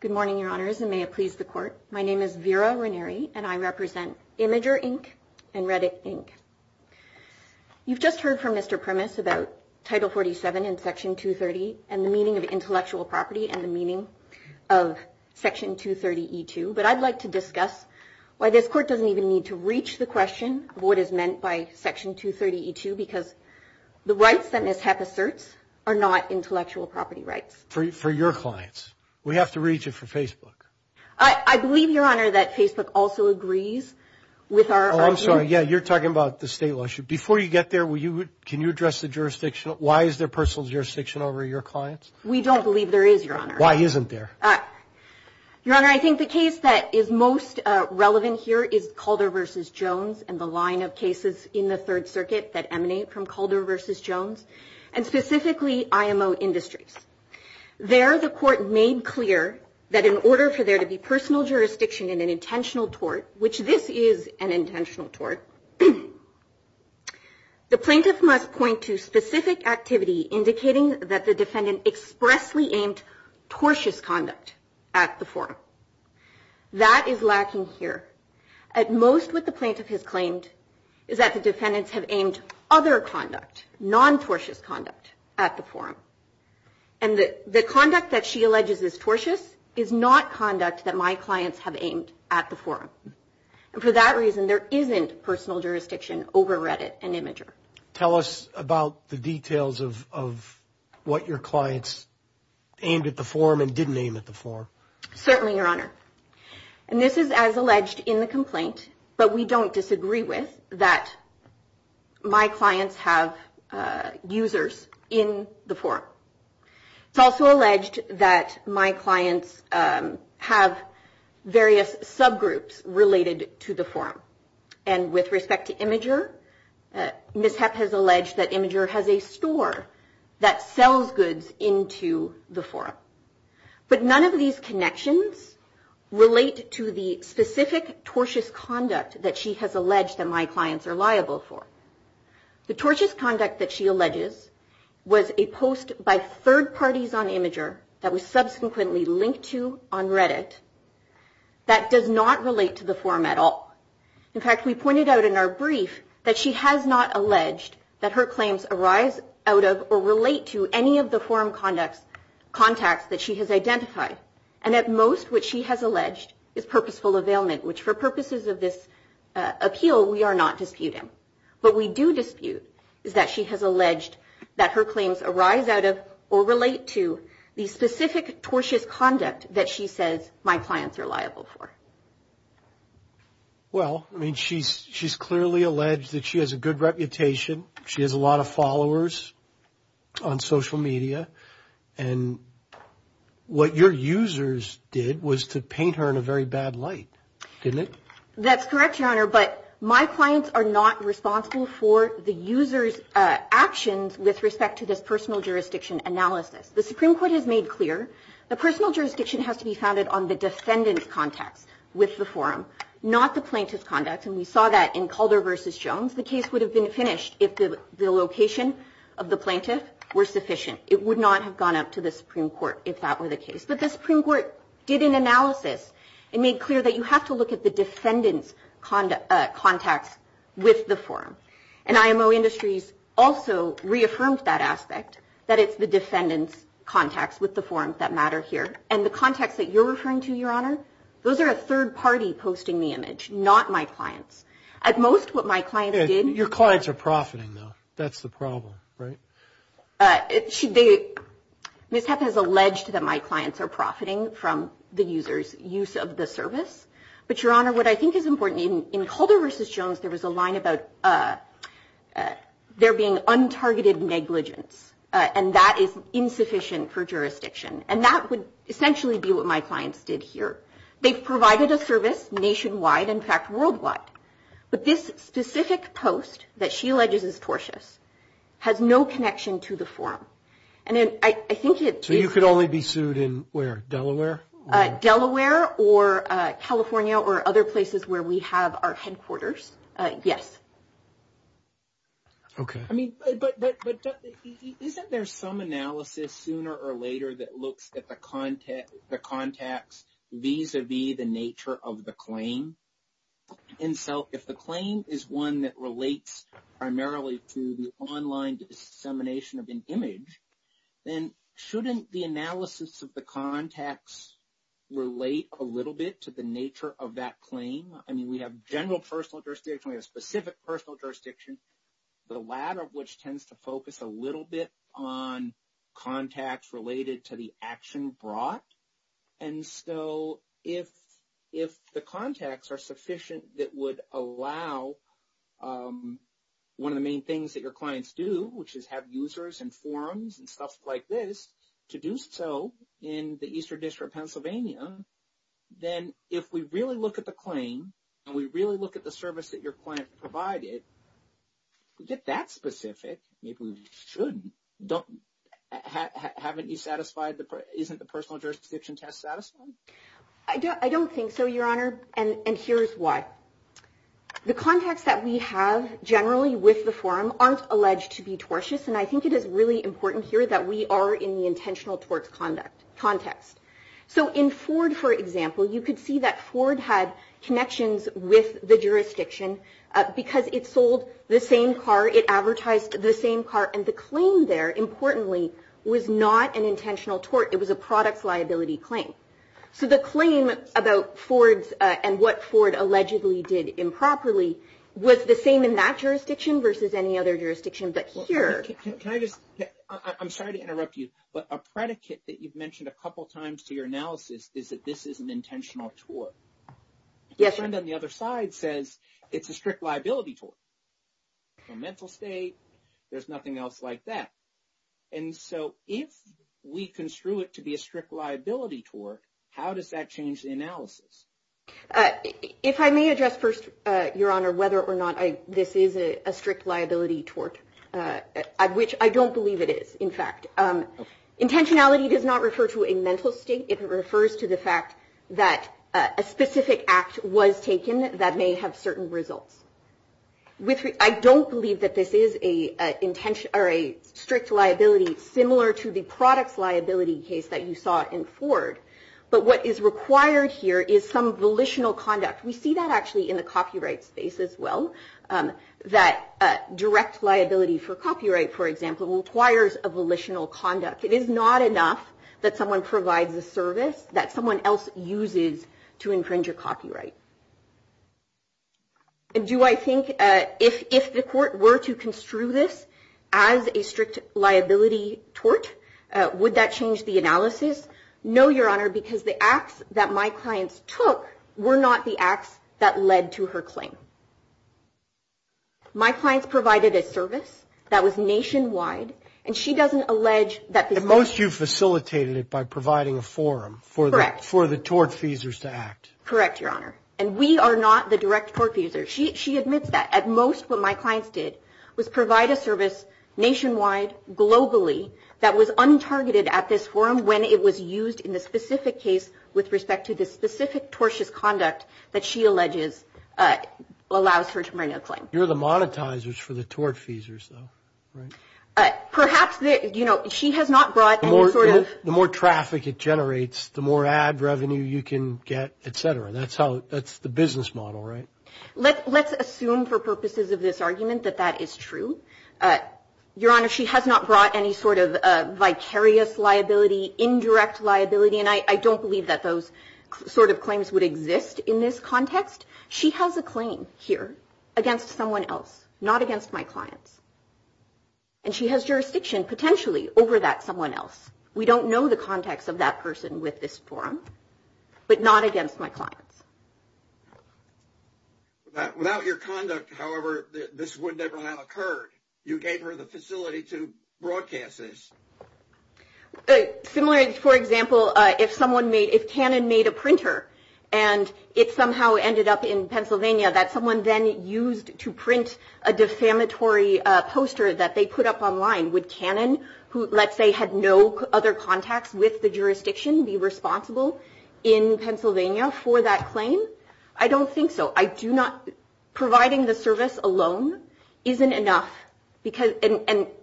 Good morning, Your Honors, and may it please the Court. My name is Vera Ranieri, and I represent Imager Inc. and Reddit Inc. You've just heard from Mr. Primus about Title 47 and Section 230 and the meaning of intellectual property and the meaning of Section 230 E-2, but I'd like to discuss why this Court doesn't even need to reach the question of what is meant by Section 230 E-2, because the rights that Ms. Heck asserts are not intellectual property rights. For your clients. We have to reach it for Facebook. I believe, Your Honor, that Facebook also agrees with our... Oh, I'm sorry, yeah, you're talking about the state law. Before you get there, can you address the jurisdiction? Why is there personal jurisdiction over your clients? We don't believe there is, Your Honor. Why isn't there? Your Honor, I think the case that is most relevant here is Calder v. Jones and the line of cases in the Third Circuit that emanate from Calder v. Jones, and specifically IMO Industries. There, the Court made clear that in order for there to be personal jurisdiction in an intentional tort, which this is an intentional tort, the plaintiff must point to specific activity indicating that the defendant expressly aimed tortious conduct at the forum. That is lacking here. At most, what the plaintiff has claimed is that the defendants have aimed other conduct, non-tortious conduct, at the forum. The conduct that she alleges is tortious is not conduct that my clients have aimed at the forum. For that reason, there isn't personal jurisdiction over Reddit and Imgur. Tell us about the details of what your clients aimed at the forum and didn't aim at the forum. Certainly, Your Honor. This is as alleged in the complaint, but we don't disagree with, that my clients have users in the forum. It's also alleged that my clients have various subgroups related to the forum. And with respect to Imgur, Ms. Hepp has alleged that Imgur has a store that sells goods into the forum. But none of these connections relate to the specific tortious conduct that she has alleged that my clients are liable for. The tortious conduct that she alleges was a post by third parties on Imgur that was subsequently linked to on Reddit that does not relate to the forum at all. In fact, we pointed out in our brief that she has not alleged that her claims arise out of or relate to any of the forum contacts that she has identified. And at most, what she has alleged is purposeful availment, which for purposes of this appeal, we are not disputing. What we do dispute is that she has alleged that her claims arise out of or relate to the specific tortious conduct that she says my clients are liable for. Well, I mean, she's clearly alleged that she has a good reputation. She has a lot of followers on social media. And what your users did was to paint her in a very bad light, didn't it? That's correct, Your Honor. But my clients are not responsible for the user's actions with respect to the personal jurisdiction analysis. The Supreme Court has made clear the personal jurisdiction has to be founded on the defendant's contact with the forum, not the plaintiff's contact. And we saw that in Calder v. Jones. The case would have been finished if the location of the plaintiff were sufficient. It would not have gone up to the Supreme Court if that were the case. But the Supreme Court did an analysis. It made clear that you have to look at the defendant's contacts with the forum. And IMO Industries also reaffirms that aspect, that it's the defendant's contacts with the forum that matter here. And the contacts that you're referring to, Your Honor, those are a third party posting the image, not my clients. At most, what my clients did... Your clients are profiting, though. That's the problem, right? Ms. Hepp has alleged that my clients are profiting from the user's use of the service. But, Your Honor, what I think is important, in Calder v. Jones, there was a line about there being untargeted negligence, and that is insufficient for jurisdiction. And that would essentially be what my clients did here. They provided a service nationwide, in fact, worldwide. But this specific post that she alleges is tortious has no connection to the forum. And I think it... So you could only be sued in, where, Delaware? Delaware or California or other places where we have our headquarters, yes. Okay. But isn't there some analysis, sooner or later, that looks at the context vis-a-vis the nature of the claim? And so if the claim is one that relates primarily to the online dissemination of an image, then shouldn't the analysis of the context relate a little bit to the nature of that claim? I mean, we have general personal jurisdiction, we have specific personal jurisdiction, the latter of which tends to focus a little bit on context related to the action brought. And so if the context are sufficient that would allow one of the main things that your clients do, which is have users and forums and stuff like this, to do so in the Eastern District of Pennsylvania, then if we really look at the claim and we really look at the service that your client provided, is it that specific? Maybe we should. Haven't you satisfied the... Isn't the personal jurisdiction test satisfying? I don't think so, Your Honor, and here's why. The context that we have generally with the forum aren't alleged to be tortious, and I think it is really important here that we are in the intentional torts context. So in Ford, for example, you could see that Ford had connections with the jurisdiction because it sold the same car, it advertised the same car, and the claim there, importantly, was not an intentional tort. It was a product liability claim. So the claim about Ford and what Ford allegedly did improperly was the same in that jurisdiction versus any other jurisdiction, but here... Can I just... I'm sorry to interrupt you, but a predicate that you've mentioned a couple times to your analysis is that this is an intentional tort. Yes, sir. And then the other side says it's a strict liability tort. In a mental state, there's nothing else like that. And so if we construe it to be a strict liability tort, how does that change the analysis? If I may address first, Your Honor, whether or not this is a strict liability tort, which I don't believe it is, in fact, intentionality does not refer to a mental state. It refers to the fact that a specific act was taken that may have certain results. I don't believe that this is a strict liability similar to the product liability case that you saw in Ford, but what is required here is some volitional conduct. We see that actually in the copyright space as well, that direct liability for copyright, for example, requires a volitional conduct. It is not enough that someone provides a service that someone else uses to infringe a copyright. Do I think if the court were to construe this as a strict liability tort, would that change the analysis? No, Your Honor, because the acts that my client took were not the acts that led to her claim. My client provided a service that was nationwide, and she doesn't allege that the most- Most you facilitated it by providing a forum for the tortfeasors to act. Correct, Your Honor. And we are not the direct tortfeasors. She admits that. At most, what my client did was provide a service nationwide, globally, that was untargeted at this forum when it was used in the specific case with respect to the specific tortious conduct that she alleges allows her to bring a claim. You're the monetizers for the tortfeasors, though, right? Perhaps, you know, she has not brought any sort of- The more traffic it generates, the more ad revenue you can get, et cetera. That's the business model, right? Let's assume for purposes of this argument that that is true. Your Honor, she has not brought any sort of vicarious liability, indirect liability, and I don't believe that those sort of claims would exist in this context. She has a claim here against someone else, not against my client. And she has jurisdiction, potentially, over that someone else. We don't know the context of that person with this forum, but not against my client. Without your conduct, however, this would never have occurred. You gave her the facility to broadcast this. Similarly, for example, if Canon made a printer and it somehow ended up in Pennsylvania that someone then used to print a defamatory poster that they put up online, would Canon, who, let's say, had no other contacts with the jurisdiction, be responsible in Pennsylvania for that claim? I don't think so. Providing the service alone isn't enough.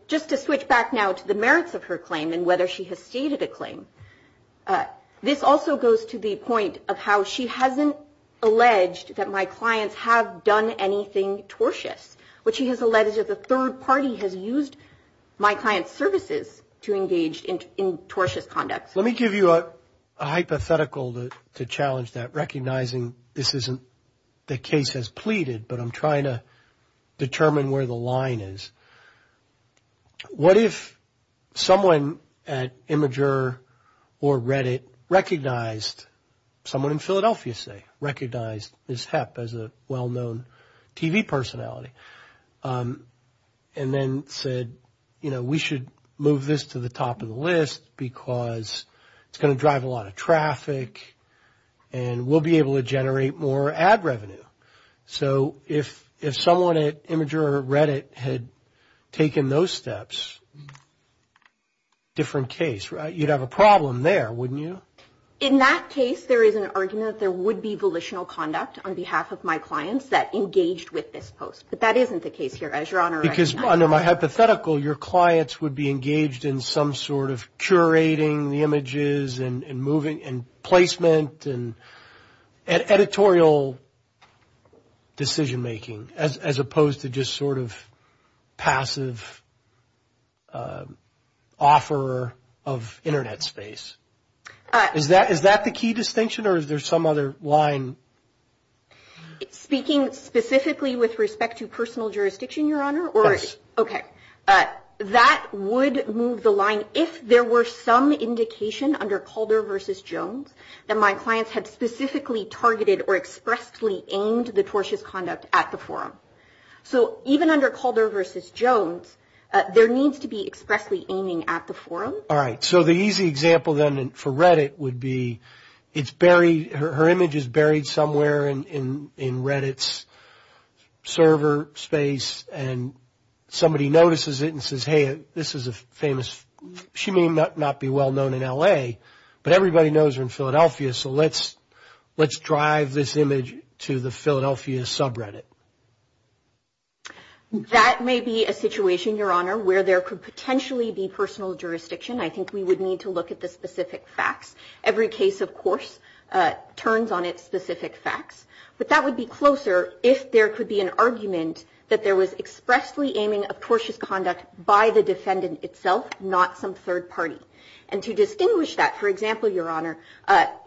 Just to switch back now to the merits of her claim and whether she has stated a claim, this also goes to the point of how she hasn't alleged that my clients have done anything tortious. What she has alleged is that the third party has used my client's services to engage in tortious conduct. Let me give you a hypothetical to challenge that, recognizing this isn't the case as pleaded, but I'm trying to determine where the line is. What if someone at Imgur or Reddit recognized, someone in Philadelphia, say, recognized Ms. Hepp as a well-known TV personality and then said, you know, we should move this to the top of the list because it's going to drive a lot of traffic and we'll be able to generate more ad revenue. So if someone at Imgur or Reddit had taken those steps, different case, right? You'd have a problem there, wouldn't you? In that case, there is an argument that there would be volitional conduct on behalf of my clients that engaged with this post. But that isn't the case here, as your Honor recognizes. Because under my hypothetical, your clients would be engaged in some sort of curating the images and placement and editorial decision-making as opposed to just sort of passive offer of Internet space. Is that the key distinction or is there some other line? Speaking specifically with respect to personal jurisdiction, your Honor? Yes. Okay. That would move the line if there were some indication under Calder versus Jones that my clients had specifically targeted or expressly aimed the tortious conduct at the forum. So even under Calder versus Jones, there needs to be expressly aiming at the forum. All right. So the easy example then for Reddit would be her image is buried somewhere in Reddit's server space and somebody notices it and says, hey, this is a famous – she may not be well-known in L.A., but everybody knows her in Philadelphia, so let's drive this image to the Philadelphia subreddit. That may be a situation, your Honor, where there could potentially be personal jurisdiction. I think we would need to look at the specific facts. Every case, of course, turns on its specific facts. But that would be closer if there could be an argument that there was expressly aiming at tortious conduct by the defendant itself, not some third party. And to distinguish that, for example, your Honor,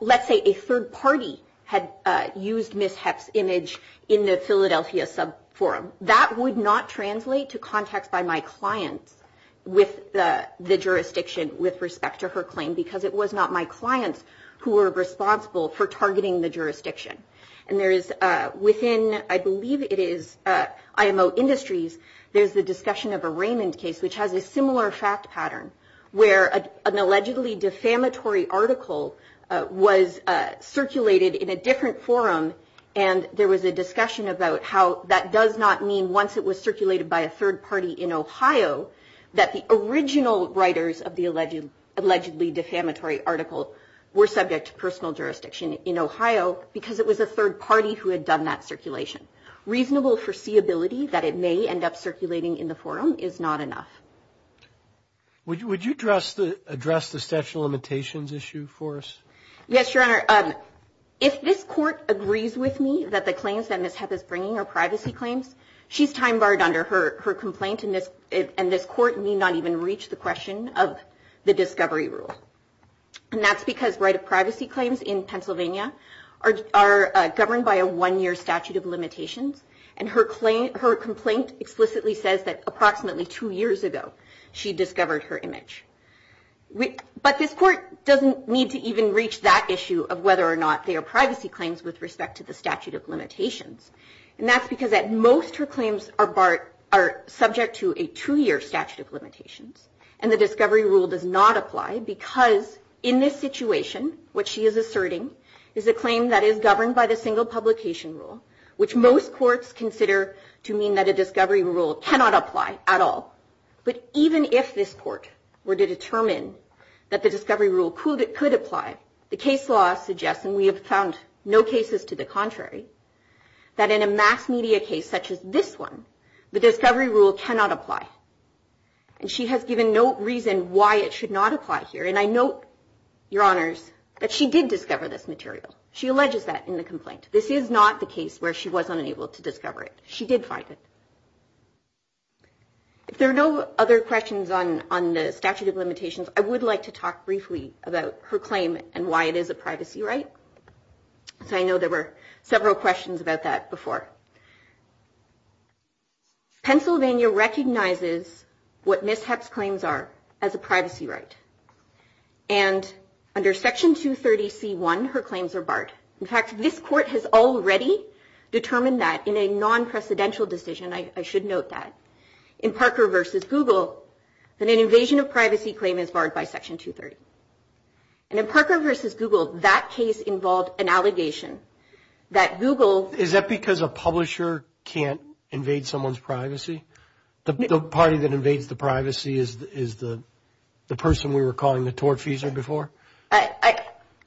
let's say a third party had used Ms. Heck's image in the Philadelphia subforum. That would not translate to contact by my clients with the jurisdiction with respect to her claim because it was not my clients who were responsible for targeting the jurisdiction. And there is – within, I believe it is, IMO Industries, there's a discussion of a Raymond case which has a similar fact pattern where an allegedly defamatory article was circulated in a different forum and there was a discussion about how that does not mean once it was circulated by a third party in Ohio that the original writers of the allegedly defamatory article were subject to personal jurisdiction in Ohio because it was a third party who had done that circulation. Reasonable foreseeability that it may end up circulating in the forum is not enough. Would you address the statute of limitations issue for us? Yes, Your Honor. If this court agrees with me that the claims that Ms. Heck is bringing are privacy claims, she's time barred under her complaint and this court may not even reach the question of the discovery rule. And that's because right of privacy claims in Pennsylvania are governed by a one-year statute of limitations and her complaint explicitly says that approximately two years ago she discovered her image. But this court doesn't need to even reach that issue of whether or not they are privacy claims with respect to the statute of limitations. And that's because at most her claims are subject to a two-year statute of limitations and the discovery rule does not apply because in this situation what she is asserting is a claim that is governed by the single publication rule, which most courts consider to mean that a discovery rule cannot apply at all. But even if this court were to determine that the discovery rule could apply, the case law suggests, and we have found no cases to the contrary, that in a mass media case such as this one, the discovery rule cannot apply. And she has given no reason why it should not apply here. And I note, Your Honours, that she did discover this material. She alleges that in the complaint. This is not the case where she was unable to discover it. She did find it. If there are no other questions on the statute of limitations, I would like to talk briefly about her claim and why it is a privacy right. I know there were several questions about that before. Pennsylvania recognizes what Ms. Huck's claims are as a privacy right. And under Section 230C1, her claims are barred. In fact, this court has already determined that in a non-presidential decision, I should note that, in Parker v. Google, that an invasion of privacy claim is barred by Section 230. And in Parker v. Google, that case involved an allegation that Google... Is that because a publisher can't invade someone's privacy? The party that invades the privacy is the person we were calling the tortfeasor before?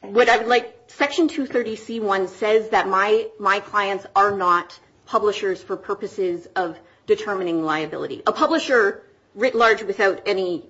What I would like... Section 230C1 says that my clients are not publishers for purposes of determining liability. A publisher, writ large, without any...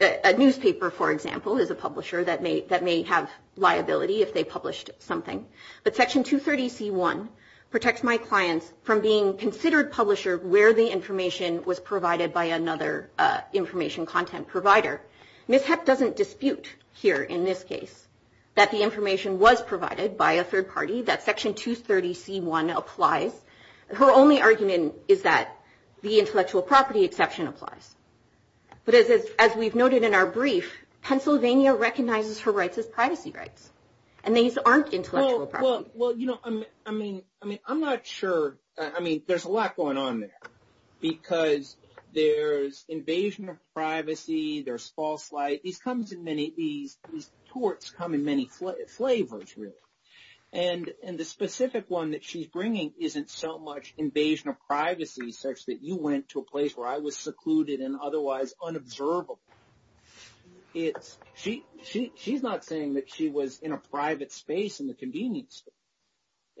A newspaper, for example, is a publisher that may have liability if they published something. But Section 230C1 protects my clients from being considered publishers where the information was provided by another information content provider. Ms. Huck doesn't dispute here, in this case, that the information was provided by a third party, that Section 230C1 applies. Her only argument is that the intellectual property exception applies. But as we've noted in our brief, Pennsylvania recognizes her rights as privacy rights. And these aren't intellectual property. Well, you know, I mean, I'm not sure... I mean, there's a lot going on there. Because there's invasion of privacy, there's false light. It comes in many... These torts come in many flavors, really. And the specific one that she's bringing isn't so much invasion of privacy, such that you went to a place where I was secluded and otherwise unobservable. She's not saying that she was in a private space in the convenience store.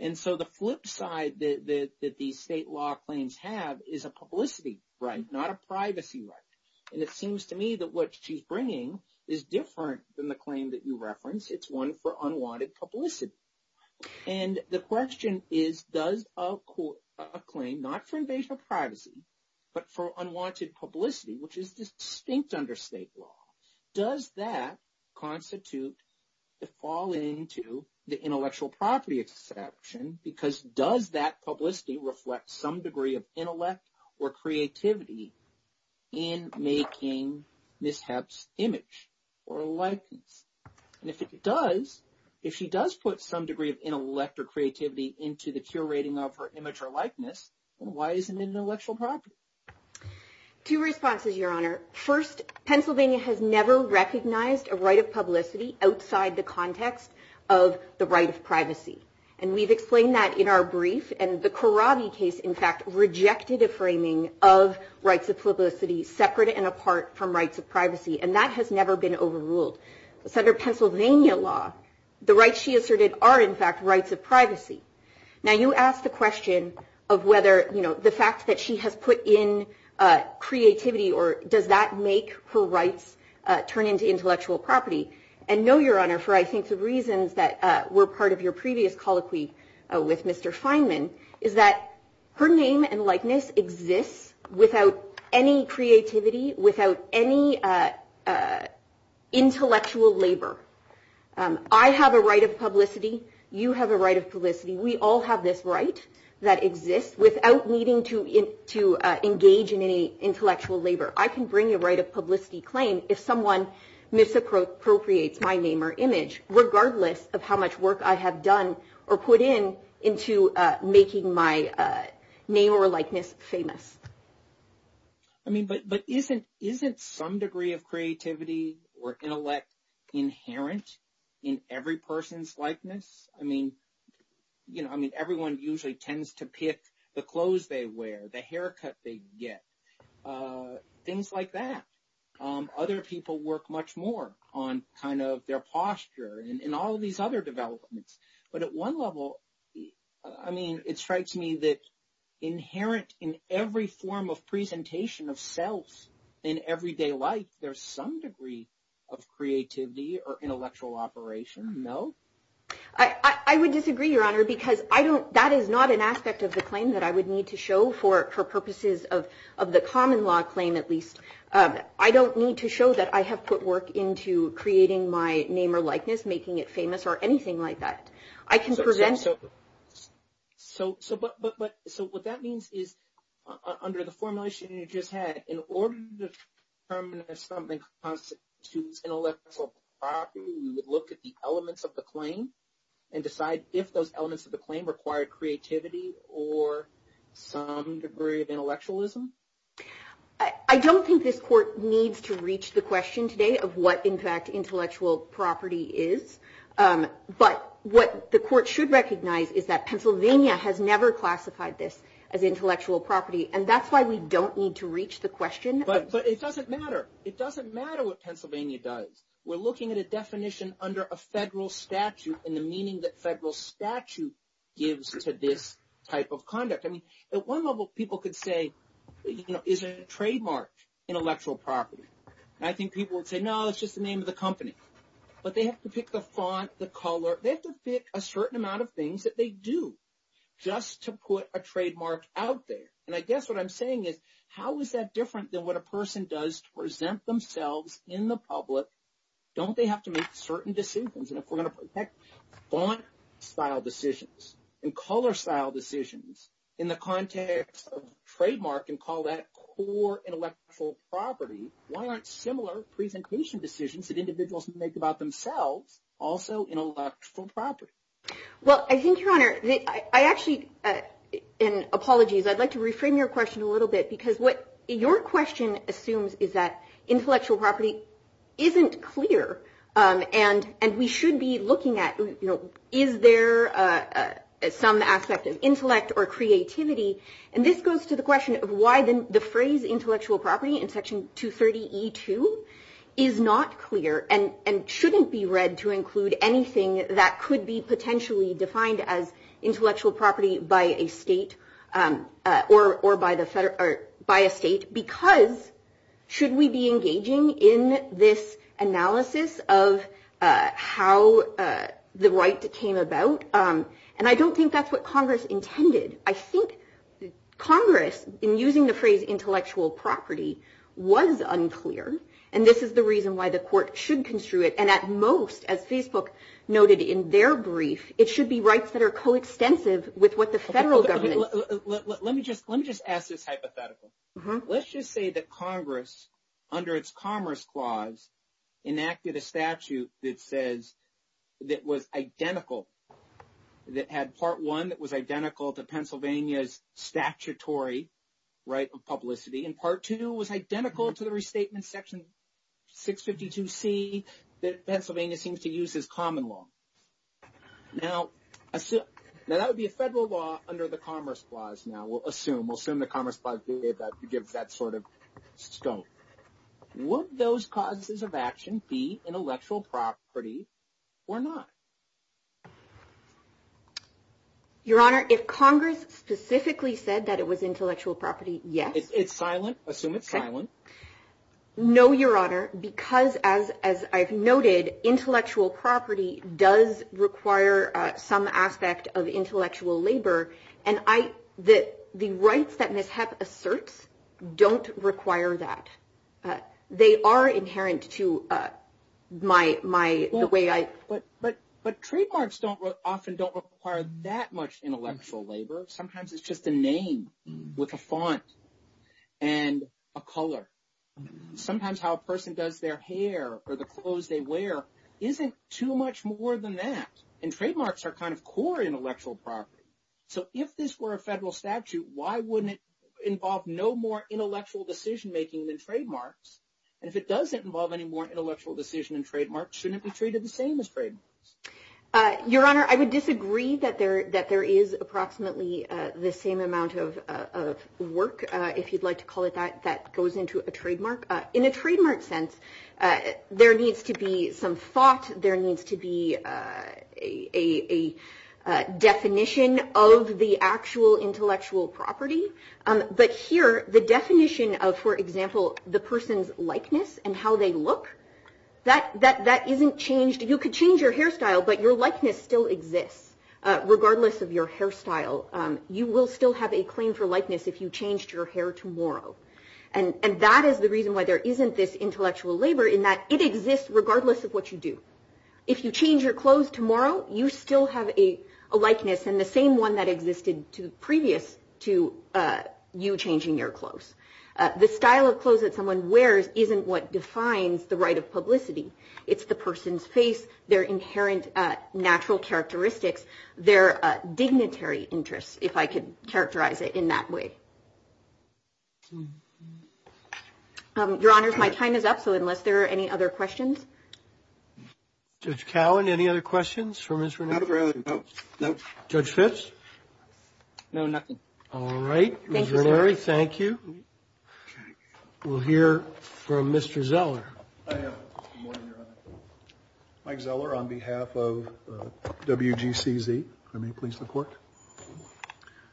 And so the flip side that these state law claims have is a publicity right, not a privacy right. And it seems to me that what she's bringing is different than the claim that you referenced. It's one for unwanted publicity. And the question is, does a claim not for invasion of privacy, but for unwanted publicity, which is distinct under state law, does that constitute the fall into the intellectual property exception? Because does that publicity reflect some degree of intellect or creativity in making Ms. Hepp's image or likeness? And if it does, if she does put some degree of intellect or creativity into the curating of her image or likeness, then why is it an intellectual property? Two responses, Your Honor. First, Pennsylvania has never recognized a right of publicity outside the context of the right of privacy. And we've explained that in our brief. And the Karabi case, in fact, rejected a framing of rights of publicity separate and apart from rights of privacy. And that has never been overruled. It's under Pennsylvania law. The rights she asserted are, in fact, rights of privacy. Now, you asked the question of whether, you know, the facts that she has put in creativity, or does that make her rights turn into intellectual property. And no, Your Honor, for I think the reasons that were part of your previous colloquy with Mr. Feynman, is that her name and likeness exist without any creativity, without any intellectual labor. I have a right of publicity. You have a right of publicity. We all have this right that exists without needing to engage in any intellectual labor. I can bring a right of publicity claim if someone misappropriates my name or image, regardless of how much work I have done or put in into making my name or likeness famous. I mean, but isn't some degree of creativity or intellect inherent in every person's likeness? I mean, you know, I mean, everyone usually tends to pick the clothes they wear, the haircut they get, things like that. Other people work much more on kind of their posture and all of these other developments. But at one level, I mean, it strikes me that inherent in every form of presentation of self in everyday life, there's some degree of creativity or intellectual operation. No? I would disagree, Your Honor, because that is not an aspect of the claim that I would need to show for purposes of the common law claim, at least. I don't need to show that I have put work into creating my name or likeness, making it famous, or anything like that. I can present— So what that means is, under the formulation you just had, in order to determine if something constitutes intellectual property, you would look at the elements of the claim and decide if those elements of the claim require creativity or some degree of intellectualism? I don't think this court needs to reach the question today of what, in fact, intellectual property is. But what the court should recognize is that Pennsylvania has never classified this as intellectual property, and that's why we don't need to reach the question. But it doesn't matter. It doesn't matter what Pennsylvania does. We're looking at a definition under a federal statute and the meaning that federal statute gives to this type of conduct. At one level, people could say, is it a trademark intellectual property? I think people would say, no, it's just the name of the company. But they have to pick the font, the color. They have to pick a certain amount of things that they do just to put a trademark out there. And I guess what I'm saying is, how is that different than what a person does to present themselves in the public? Don't they have to make certain decisions? Font-style decisions and color-style decisions in the context of trademark can call that core intellectual property. Why aren't similar presentation decisions that individuals make about themselves also intellectual property? Well, I think, Your Honor, I actually – and apologies. I'd like to reframe your question a little bit because what your question assumes is that intellectual property isn't clear. And we should be looking at, is there some aspect of intellect or creativity? And this goes to the question of why the phrase intellectual property in Section 230E2 is not clear and shouldn't be read to include anything that could be potentially defined as intellectual property by a state because should we be engaging in this analysis of how the right came about? And I don't think that's what Congress intended. I think Congress, in using the phrase intellectual property, was unclear. And this is the reason why the court should construe it. And at most, as Facebook noted in their brief, it should be rights that are coextensive with what the federal government – Let me just ask this hypothetical. Let's just say that Congress, under its Commerce Clause, enacted a statute that says – that was identical, that had Part 1 that was identical to Pennsylvania's statutory right of publicity and Part 2 was identical to the restatement in Section 652C that Pennsylvania seems to use as common law. Now, that would be a federal law under the Commerce Clause now, we'll assume. We'll assume the Commerce Clause would give that sort of stone. Would those causes of action be intellectual property or not? Your Honor, if Congress specifically said that it was intellectual property, yes. No, Your Honor, because as I've noted, intellectual property does require some aspect of intellectual labor. And the rights that Mishap asserts don't require that. They are inherent to my – But trademarks often don't require that much intellectual labor. Sometimes it's just a name with a font and a color. Sometimes how a person does their hair or the clothes they wear isn't too much more than that. And trademarks are kind of core intellectual property. So if this were a federal statute, why wouldn't it involve no more intellectual decision-making than trademarks? And if it doesn't involve any more intellectual decision in trademarks, shouldn't it be treated the same as trademarks? Your Honor, I would disagree that there is approximately the same amount of work, if you'd like to call it that, that goes into a trademark. In a trademark sense, there needs to be some thought. There needs to be a definition of the actual intellectual property. But here, the definition of, for example, the person's likeness and how they look, that isn't changed. You could change your hairstyle, but your likeness still exists regardless of your hairstyle. You will still have a claim for likeness if you changed your hair tomorrow. And that is the reason why there isn't this intellectual labor in that it exists regardless of what you do. If you change your clothes tomorrow, you still have a likeness and the same one that existed previous to you changing your clothes. The style of clothes that someone wears isn't what defines the right of publicity. It's the person's face, their inherent natural characteristics, their dignitary interests, if I could characterize it in that way. Your Honor, my time is up, so unless there are any other questions? Judge Cowan, any other questions for Ms. Renner? No. Judge Phipps? No, nothing. All right. Thank you. Ms. Renner, thank you. We'll hear from Mr. Zeller. I have one, Your Honor. Mike Zeller on behalf of WGCZ. May I please report?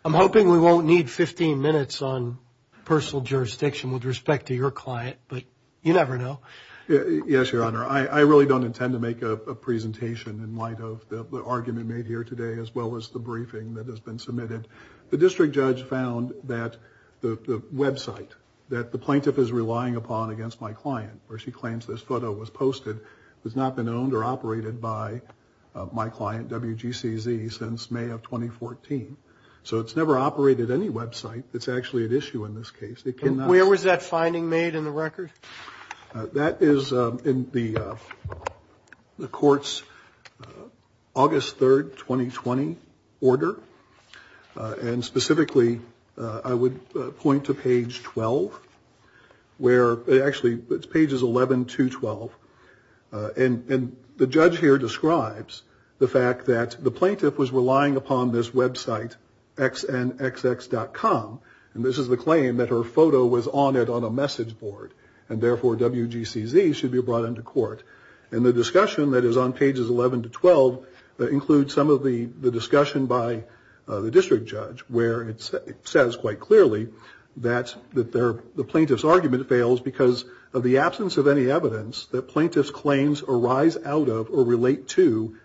I'm hoping we won't need 15 minutes on personal jurisdiction with respect to your client, but you never know. Yes, Your Honor. I really don't intend to make a presentation in light of the argument made here today as well as the briefing that has been submitted. The district judge found that the website that the plaintiff is relying upon against my client, where she claims this photo was posted, has not been owned or operated by my client, WGCZ, since May of 2014. So it's never operated any website that's actually at issue in this case. Where was that finding made in the record? That is in the court's August 3rd, 2020, order. And specifically, I would point to page 12. Actually, it's pages 11 to 12. And the judge here describes the fact that the plaintiff was relying upon this website, xnxx.com, and this is the claim that her photo was on it on a message board, and therefore WGCZ should be brought into court. And the discussion that is on pages 11 to 12 includes some of the discussion by the district judge, where it says quite clearly that the plaintiff's argument fails because of the absence of any evidence that plaintiff's claims arise out of or relate to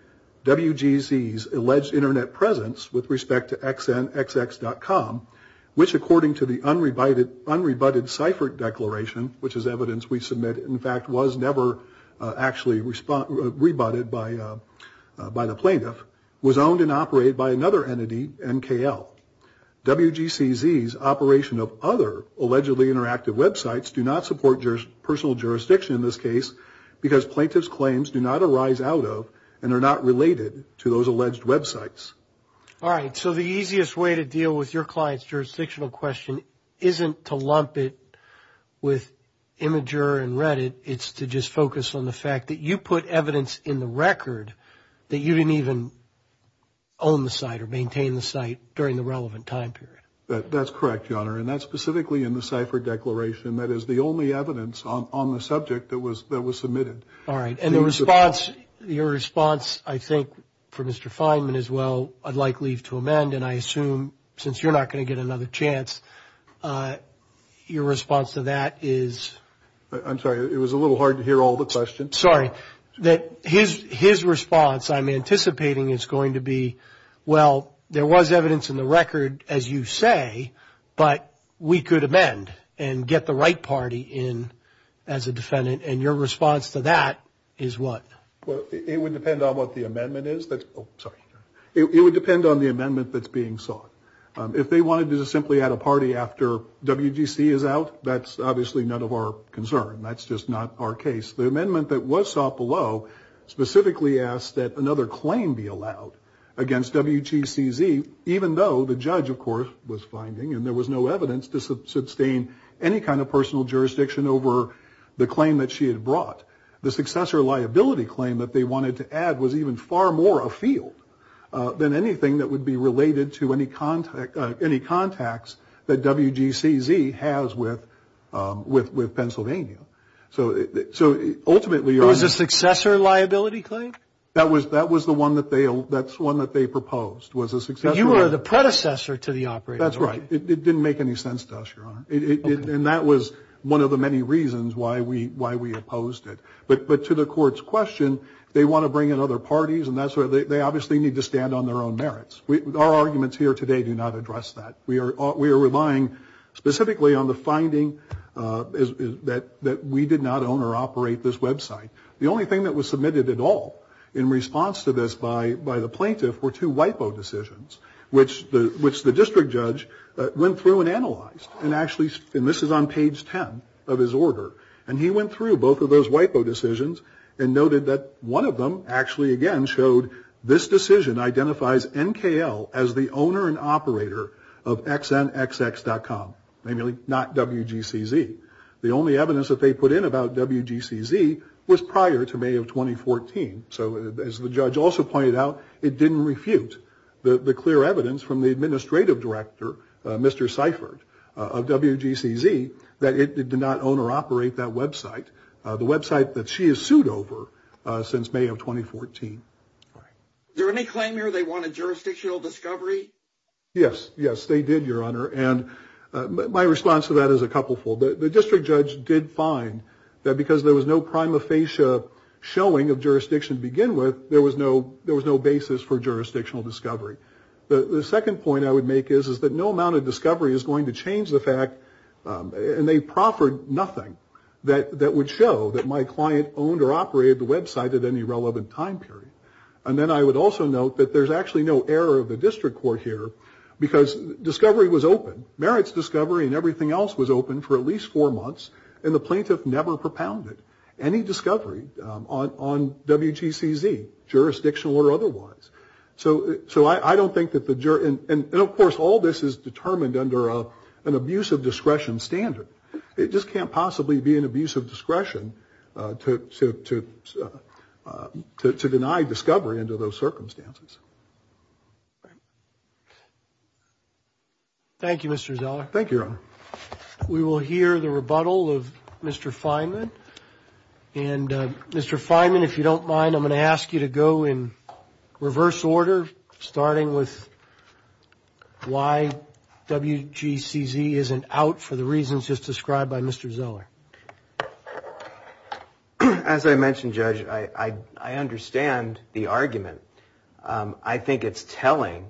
WGCZ's alleged internet presence with respect to xnxx.com, which according to the unrebutted cipher declaration, which is evidence we submit, in fact, was never actually rebutted by the plaintiff, was owned and operated by another entity, MKL. WGCZ's operation of other allegedly interactive websites do not support personal jurisdiction in this case because plaintiff's claims do not arise out of and are not related to those alleged websites. All right. So the easiest way to deal with your client's jurisdictional question isn't to lump it with Imgur and Reddit. It's to just focus on the fact that you put evidence in the record that you didn't even own the site or maintain the site during the relevant time period. That's correct, Your Honor, and that's specifically in the cipher declaration. That is the only evidence on the subject that was submitted. All right. Your response, I think, for Mr. Fineman as well, I'd like leave to amend, and I assume since you're not going to get another chance, your response to that is? I'm sorry. It was a little hard to hear all the questions. Sorry. His response, I'm anticipating, is going to be, well, there was evidence in the record, as you say, but we could amend and get the right party in as a defendant, and your response to that is what? Well, it would depend on what the amendment is. Oh, sorry. It would depend on the amendment that's being sought. If they wanted to simply add a party after WGC is out, that's obviously none of our concern. That's just not our case. The amendment that was sought below specifically asked that another claim be allowed against WGCZ, even though the judge, of course, was finding, and there was no evidence to sustain any kind of personal jurisdiction over the claim that she had brought. The successor liability claim that they wanted to add was even far more afield than anything that would be related to any contacts that WGCZ has with Pennsylvania. Was the successor liability claim? That was the one that they proposed. You were the predecessor to the operator. That's right. It didn't make any sense to us, Your Honor, and that was one of the many reasons why we opposed it. But to the court's question, they want to bring in other parties, and they obviously need to stand on their own merits. Our arguments here today do not address that. We are relying specifically on the finding that we did not own or operate this website. The only thing that was submitted at all in response to this by the plaintiff were two WIPO decisions, which the district judge went through and analyzed, and this is on page 10 of his order, and he went through both of those WIPO decisions and noted that one of them actually, again, this decision identifies NKL as the owner and operator of XNXX.com, namely not WGCZ. The only evidence that they put in about WGCZ was prior to May of 2014. So as the judge also pointed out, it didn't refute the clear evidence from the administrative director, Mr. Seifert, of WGCZ, that it did not own or operate that website, the website that she has sued over since May of 2014. Is there any claim here they wanted jurisdictional discovery? Yes, yes, they did, Your Honor, and my response to that is a couplefold. The district judge did find that because there was no prima facie showing of jurisdiction to begin with, there was no basis for jurisdictional discovery. The second point I would make is that no amount of discovery is going to change the fact, and they proffered nothing that would show that my client owned or operated the website at any relevant time period. And then I would also note that there's actually no error of the district court here because discovery was open. Merit's discovery and everything else was open for at least four months, and the plaintiff never propounded any discovery on WGCZ, jurisdictional or otherwise. So I don't think that the jury, and of course all this is determined under an abuse of discretion standard. It just can't possibly be an abuse of discretion to deny discovery under those circumstances. Thank you, Mr. Zeller. Thank you, Your Honor. We will hear the rebuttal of Mr. Fineman, and Mr. Fineman, if you don't mind, I'm going to ask you to go in reverse order, starting with why WGCZ isn't out for the reasons just described by Mr. Zeller. As I mentioned, Judge, I understand the argument. I think it's telling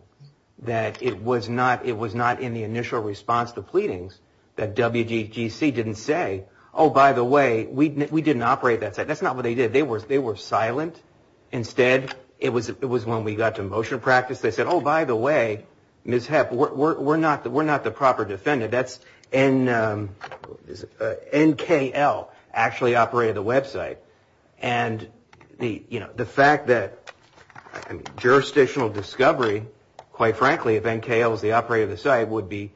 that it was not in the initial response to pleadings that WGCZ didn't say, oh, by the way, we didn't operate that site. That's not what they did. They were silent. Instead, it was when we got to motion practice, they said, oh, by the way, Ms. Hepp, we're not the proper defendant. That's NKL, actually operated the website. And the fact that jurisdictional discovery, quite frankly, if NKL is the operator of the site, would be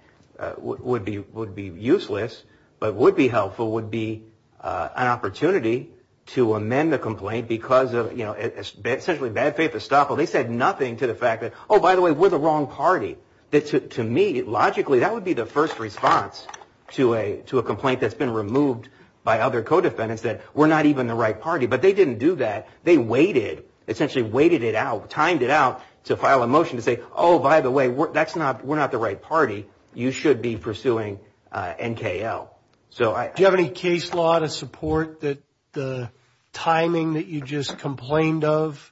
useless, but would be helpful, would be an opportunity to amend the complaint because of, you know, it's essentially bad faith to stop them. They said nothing to the fact that, oh, by the way, we're the wrong party. To me, logically, that would be the first response to a complaint that's been removed by other co-defendants, that we're not even the right party. But they didn't do that. They waited, essentially waited it out, timed it out to file a motion to say, oh, by the way, we're not the right party. You should be pursuing NKL. Do you have any case law to support that the timing that you just complained of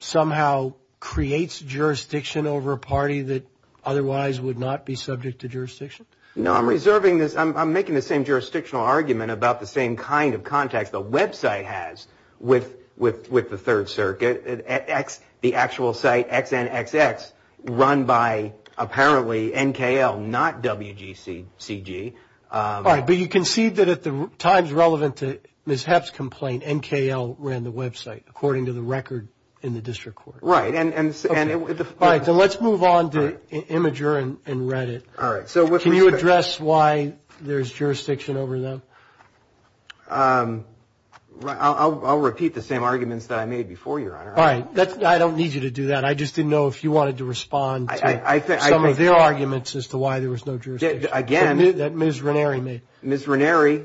somehow creates jurisdiction over a party that otherwise would not be subject to jurisdiction? No, I'm making the same jurisdictional argument about the same kind of contact the website has with the Third Circuit. The actual site, XNXX, run by, apparently, NKL, not WGCG. All right. But you concede that at the times relevant to Ms. Hepp's complaint, NKL ran the website, according to the record in the district court. Right. All right. So let's move on to Imgur and Reddit. All right. Can you address why there's jurisdiction over them? I'll repeat the same arguments that I made before, Your Honor. All right. I don't need you to do that. I just didn't know if you wanted to respond to some of their arguments as to why there was no jurisdiction. Again. That Ms. Ranieri made. Ms. Ranieri,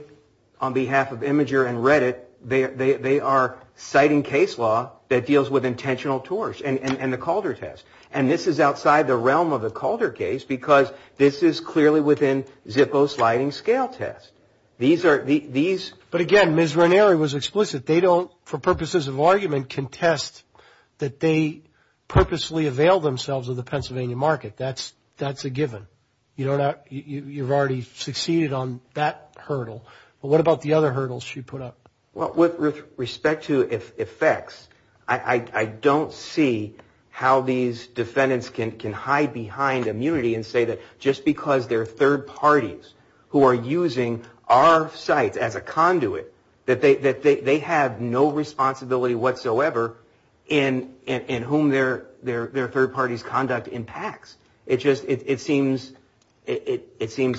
on behalf of Imgur and Reddit, they are citing case law that deals with intentional tours and the Calder test. And this is outside the realm of the Calder case because this is clearly within Zippo's sliding scale test. But, again, Ms. Ranieri was explicit. They don't, for purposes of argument, contest that they purposely avail themselves of the Pennsylvania market. That's a given. You've already succeeded on that hurdle. But what about the other hurdles she put up? With respect to effects, I don't see how these defendants can hide behind immunity and say that just because they're third parties who are using our site as a conduit, that they have no responsibility whatsoever in whom their third party's conduct impacts. It seems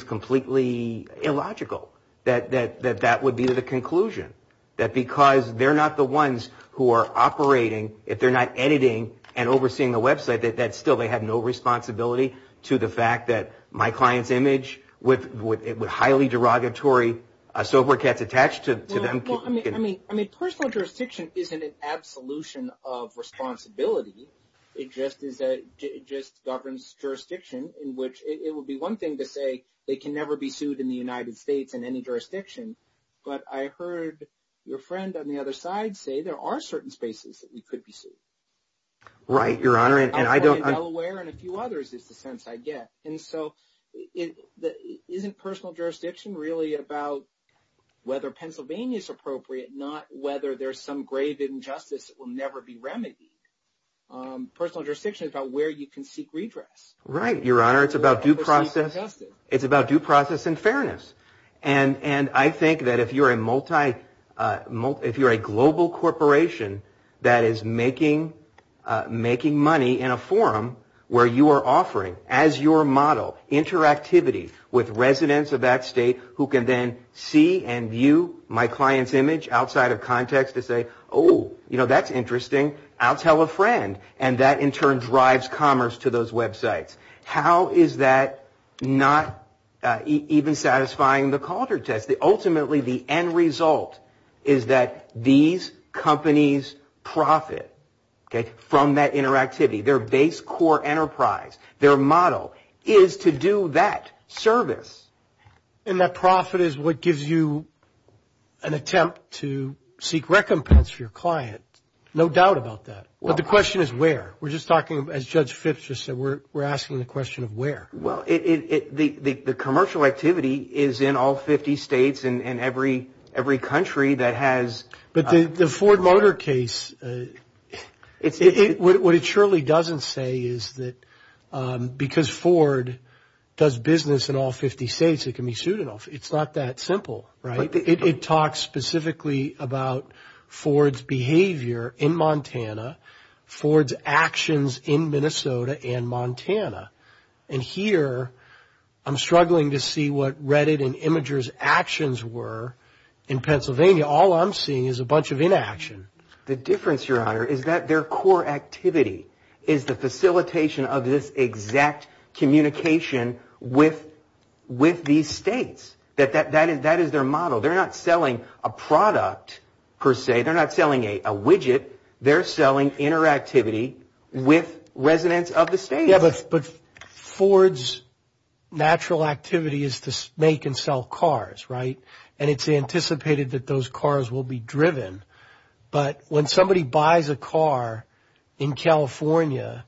completely illogical that that would be the conclusion. That because they're not the ones who are operating, if they're not editing and overseeing the website, that still they have no responsibility to the fact that my client's image with highly derogatory software gets attached to them. Well, I mean, personal jurisdiction isn't an absolution of responsibility. It just governs jurisdiction in which it would be one thing to say it can never be sued in the United States in any jurisdiction. But I heard your friend on the other side say there are certain spaces that we could be sued. Right, Your Honor. Delaware and a few others is the sense I get. And so isn't personal jurisdiction really about whether Pennsylvania is appropriate, not whether there's some grave injustice that will never be remedied? Personal jurisdiction is about where you can seek redress. Right, Your Honor. It's about due process. It's about due process and fairness. And I think that if you're a global corporation that is making money in a forum where you are offering, as your model, interactivity with residents of that state who can then see and view my client's image outside of context to say, oh, you know, that's interesting. I'll tell a friend. And that in turn drives commerce to those websites. How is that not even satisfying the culture test? Ultimately, the end result is that these companies profit from that interactivity. Their base core enterprise, their model, is to do that service. And that profit is what gives you an attempt to seek recompense for your client. No doubt about that. But the question is where. We're just talking, as Judge Fitch just said, we're asking the question of where. Well, the commercial activity is in all 50 states and every country that has. But the Ford Motor case, what it surely doesn't say is that because Ford does business in all 50 states, it can be sued and all. It's not that simple, right? It talks specifically about Ford's behavior in Montana, Ford's actions in Minnesota and Montana. And here I'm struggling to see what Reddit and Imgur's actions were in Pennsylvania. All I'm seeing is a bunch of inaction. The difference, Your Honor, is that their core activity is the facilitation of this exact communication with these states. That is their model. They're not selling a product per se. They're not selling a widget. They're selling interactivity with residents of the state. But Ford's natural activity is to make and sell cars, right? And it's anticipated that those cars will be driven. But when somebody buys a car in California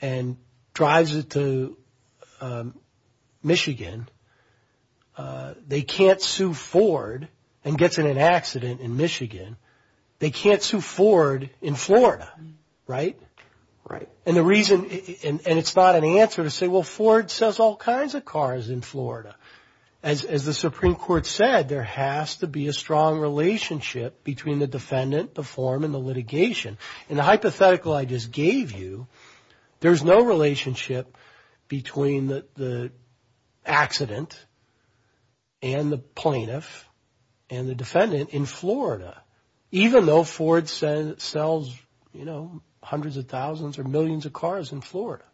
and drives it to Michigan, they can't sue Ford and get in an accident in Michigan. They can't sue Ford in Florida, right? And the reason, and it's not an answer to say, well, Ford sells all kinds of cars in Florida. As the Supreme Court said, there has to be a strong relationship between the defendant, the form, and the litigation. And the hypothetical I just gave you, there's no relationship between the accident and the plaintiff and the defendant in Florida, even though Ford sells hundreds of thousands or millions of cars in Florida.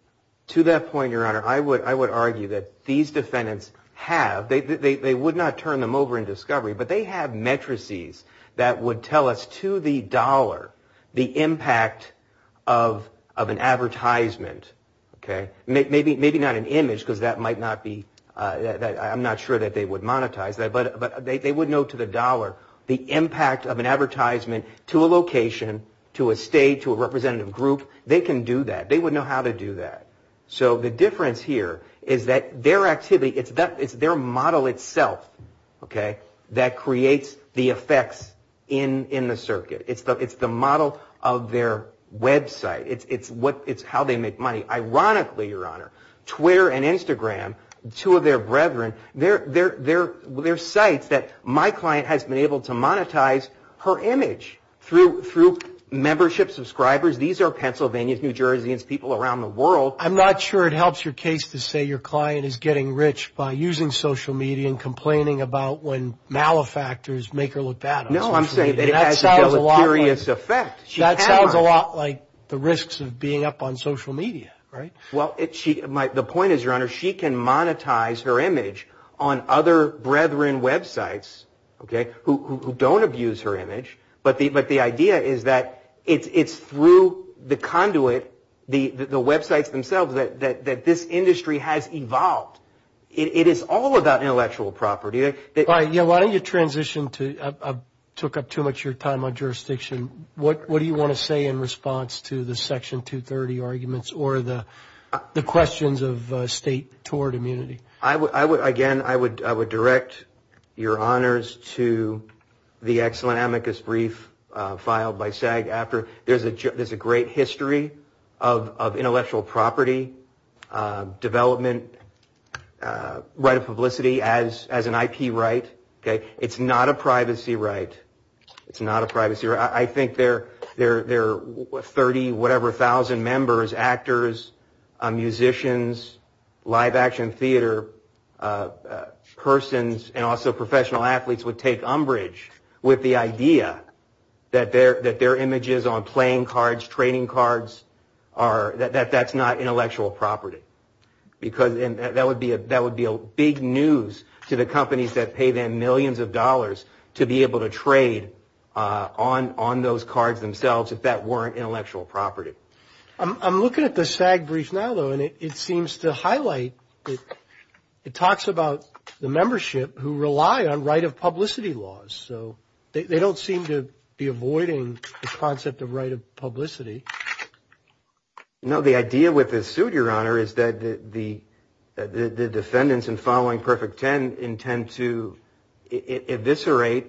To that point, Your Honor, I would argue that these defendants have, they would not turn them over in discovery, but they have matrices that would tell us to the dollar the impact of an advertisement. Maybe not an image because that might not be, I'm not sure that they would monetize that, but they would know to the dollar the impact of an advertisement to a location, to a state, to a representative group. They can do that. They would know how to do that. So the difference here is that their activity, it's their model itself that creates the effects in the circuit. It's the model of their website. It's how they make money. Ironically, Your Honor, Twitter and Instagram, two of their brethren, they're sites that my client has been able to monetize her image through membership subscribers. These are Pennsylvanians, New Jerseyans, people around the world. I'm not sure it helps your case to say your client is getting rich by using social media and complaining about when malefactors make her look bad on social media. No, I'm saying it has a serious effect. That sounds a lot like the risks of being up on social media, right? Well, the point is, Your Honor, she can monetize her image on other brethren websites who don't abuse her image, but the idea is that it's through the conduit, the websites themselves, that this industry has evolved. It is all about intellectual property. Why don't you transition to, I took up too much of your time on jurisdiction. What do you want to say in response to the Section 230 arguments or the questions of state toward immunity? Again, I would direct Your Honors to the Ex Lamicus brief filed by SAG-AFTRA. There's a great history of intellectual property development, right of publicity as an IP right. It's not a privacy right. It's not a privacy right. I think there are 30-whatever-thousand members, actors, musicians, live action theater persons, and also professional athletes would take umbrage with the idea that their images on playing cards, trading cards, that's not intellectual property. That would be big news to the companies that pay them millions of dollars to be able to trade on those cards themselves if that weren't intellectual property. I'm looking at the SAG brief now, though, and it seems to highlight, it talks about the membership who rely on right of publicity laws. So they don't seem to be avoiding the concept of right of publicity. No, the idea with the suit, Your Honor, is that the defendants in following Perfect Ten intend to eviscerate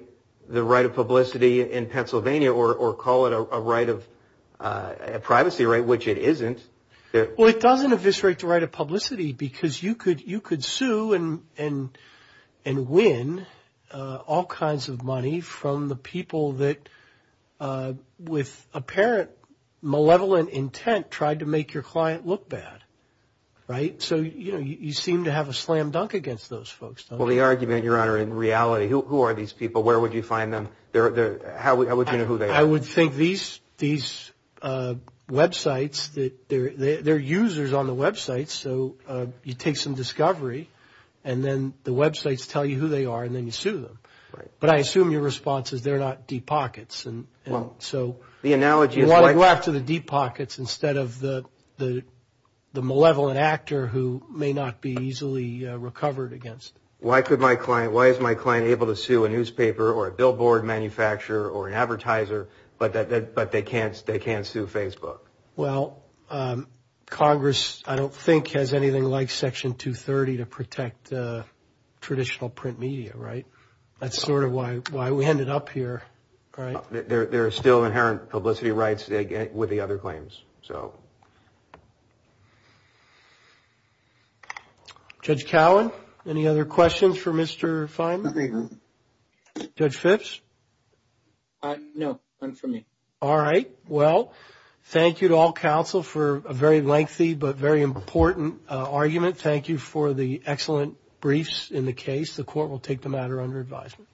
the right of publicity in Pennsylvania or call it a right of privacy right, which it isn't. Well, it doesn't eviscerate the right of publicity because you could sue and win all kinds of money from the people that with apparent malevolent intent tried to make your client look bad, right? So you seem to have a slam dunk against those folks. Well, the argument, Your Honor, in reality, who are these people? Where would you find them? How would you know who they are? I would think these websites, they're users on the websites, so you take some discovery and then the websites tell you who they are and then you sue them. But I assume your response is they're not deep pockets, and so you want to go after the deep pockets instead of the malevolent actor who may not be easily recovered against. Why is my client able to sue a newspaper or a billboard manufacturer or an advertiser, but they can't sue Facebook? Well, Congress, I don't think, has anything like Section 230 to protect traditional print media, right? That's sort of why we ended up here, right? There are still inherent publicity rights with the other claims. Judge Cowan, any other questions for Mr. Fineman? No. Judge Fitch? No, none for me. All right. Well, thank you to all counsel for a very lengthy but very important argument. Thank you for the excellent briefs in the case. The court will take the matter under advisement.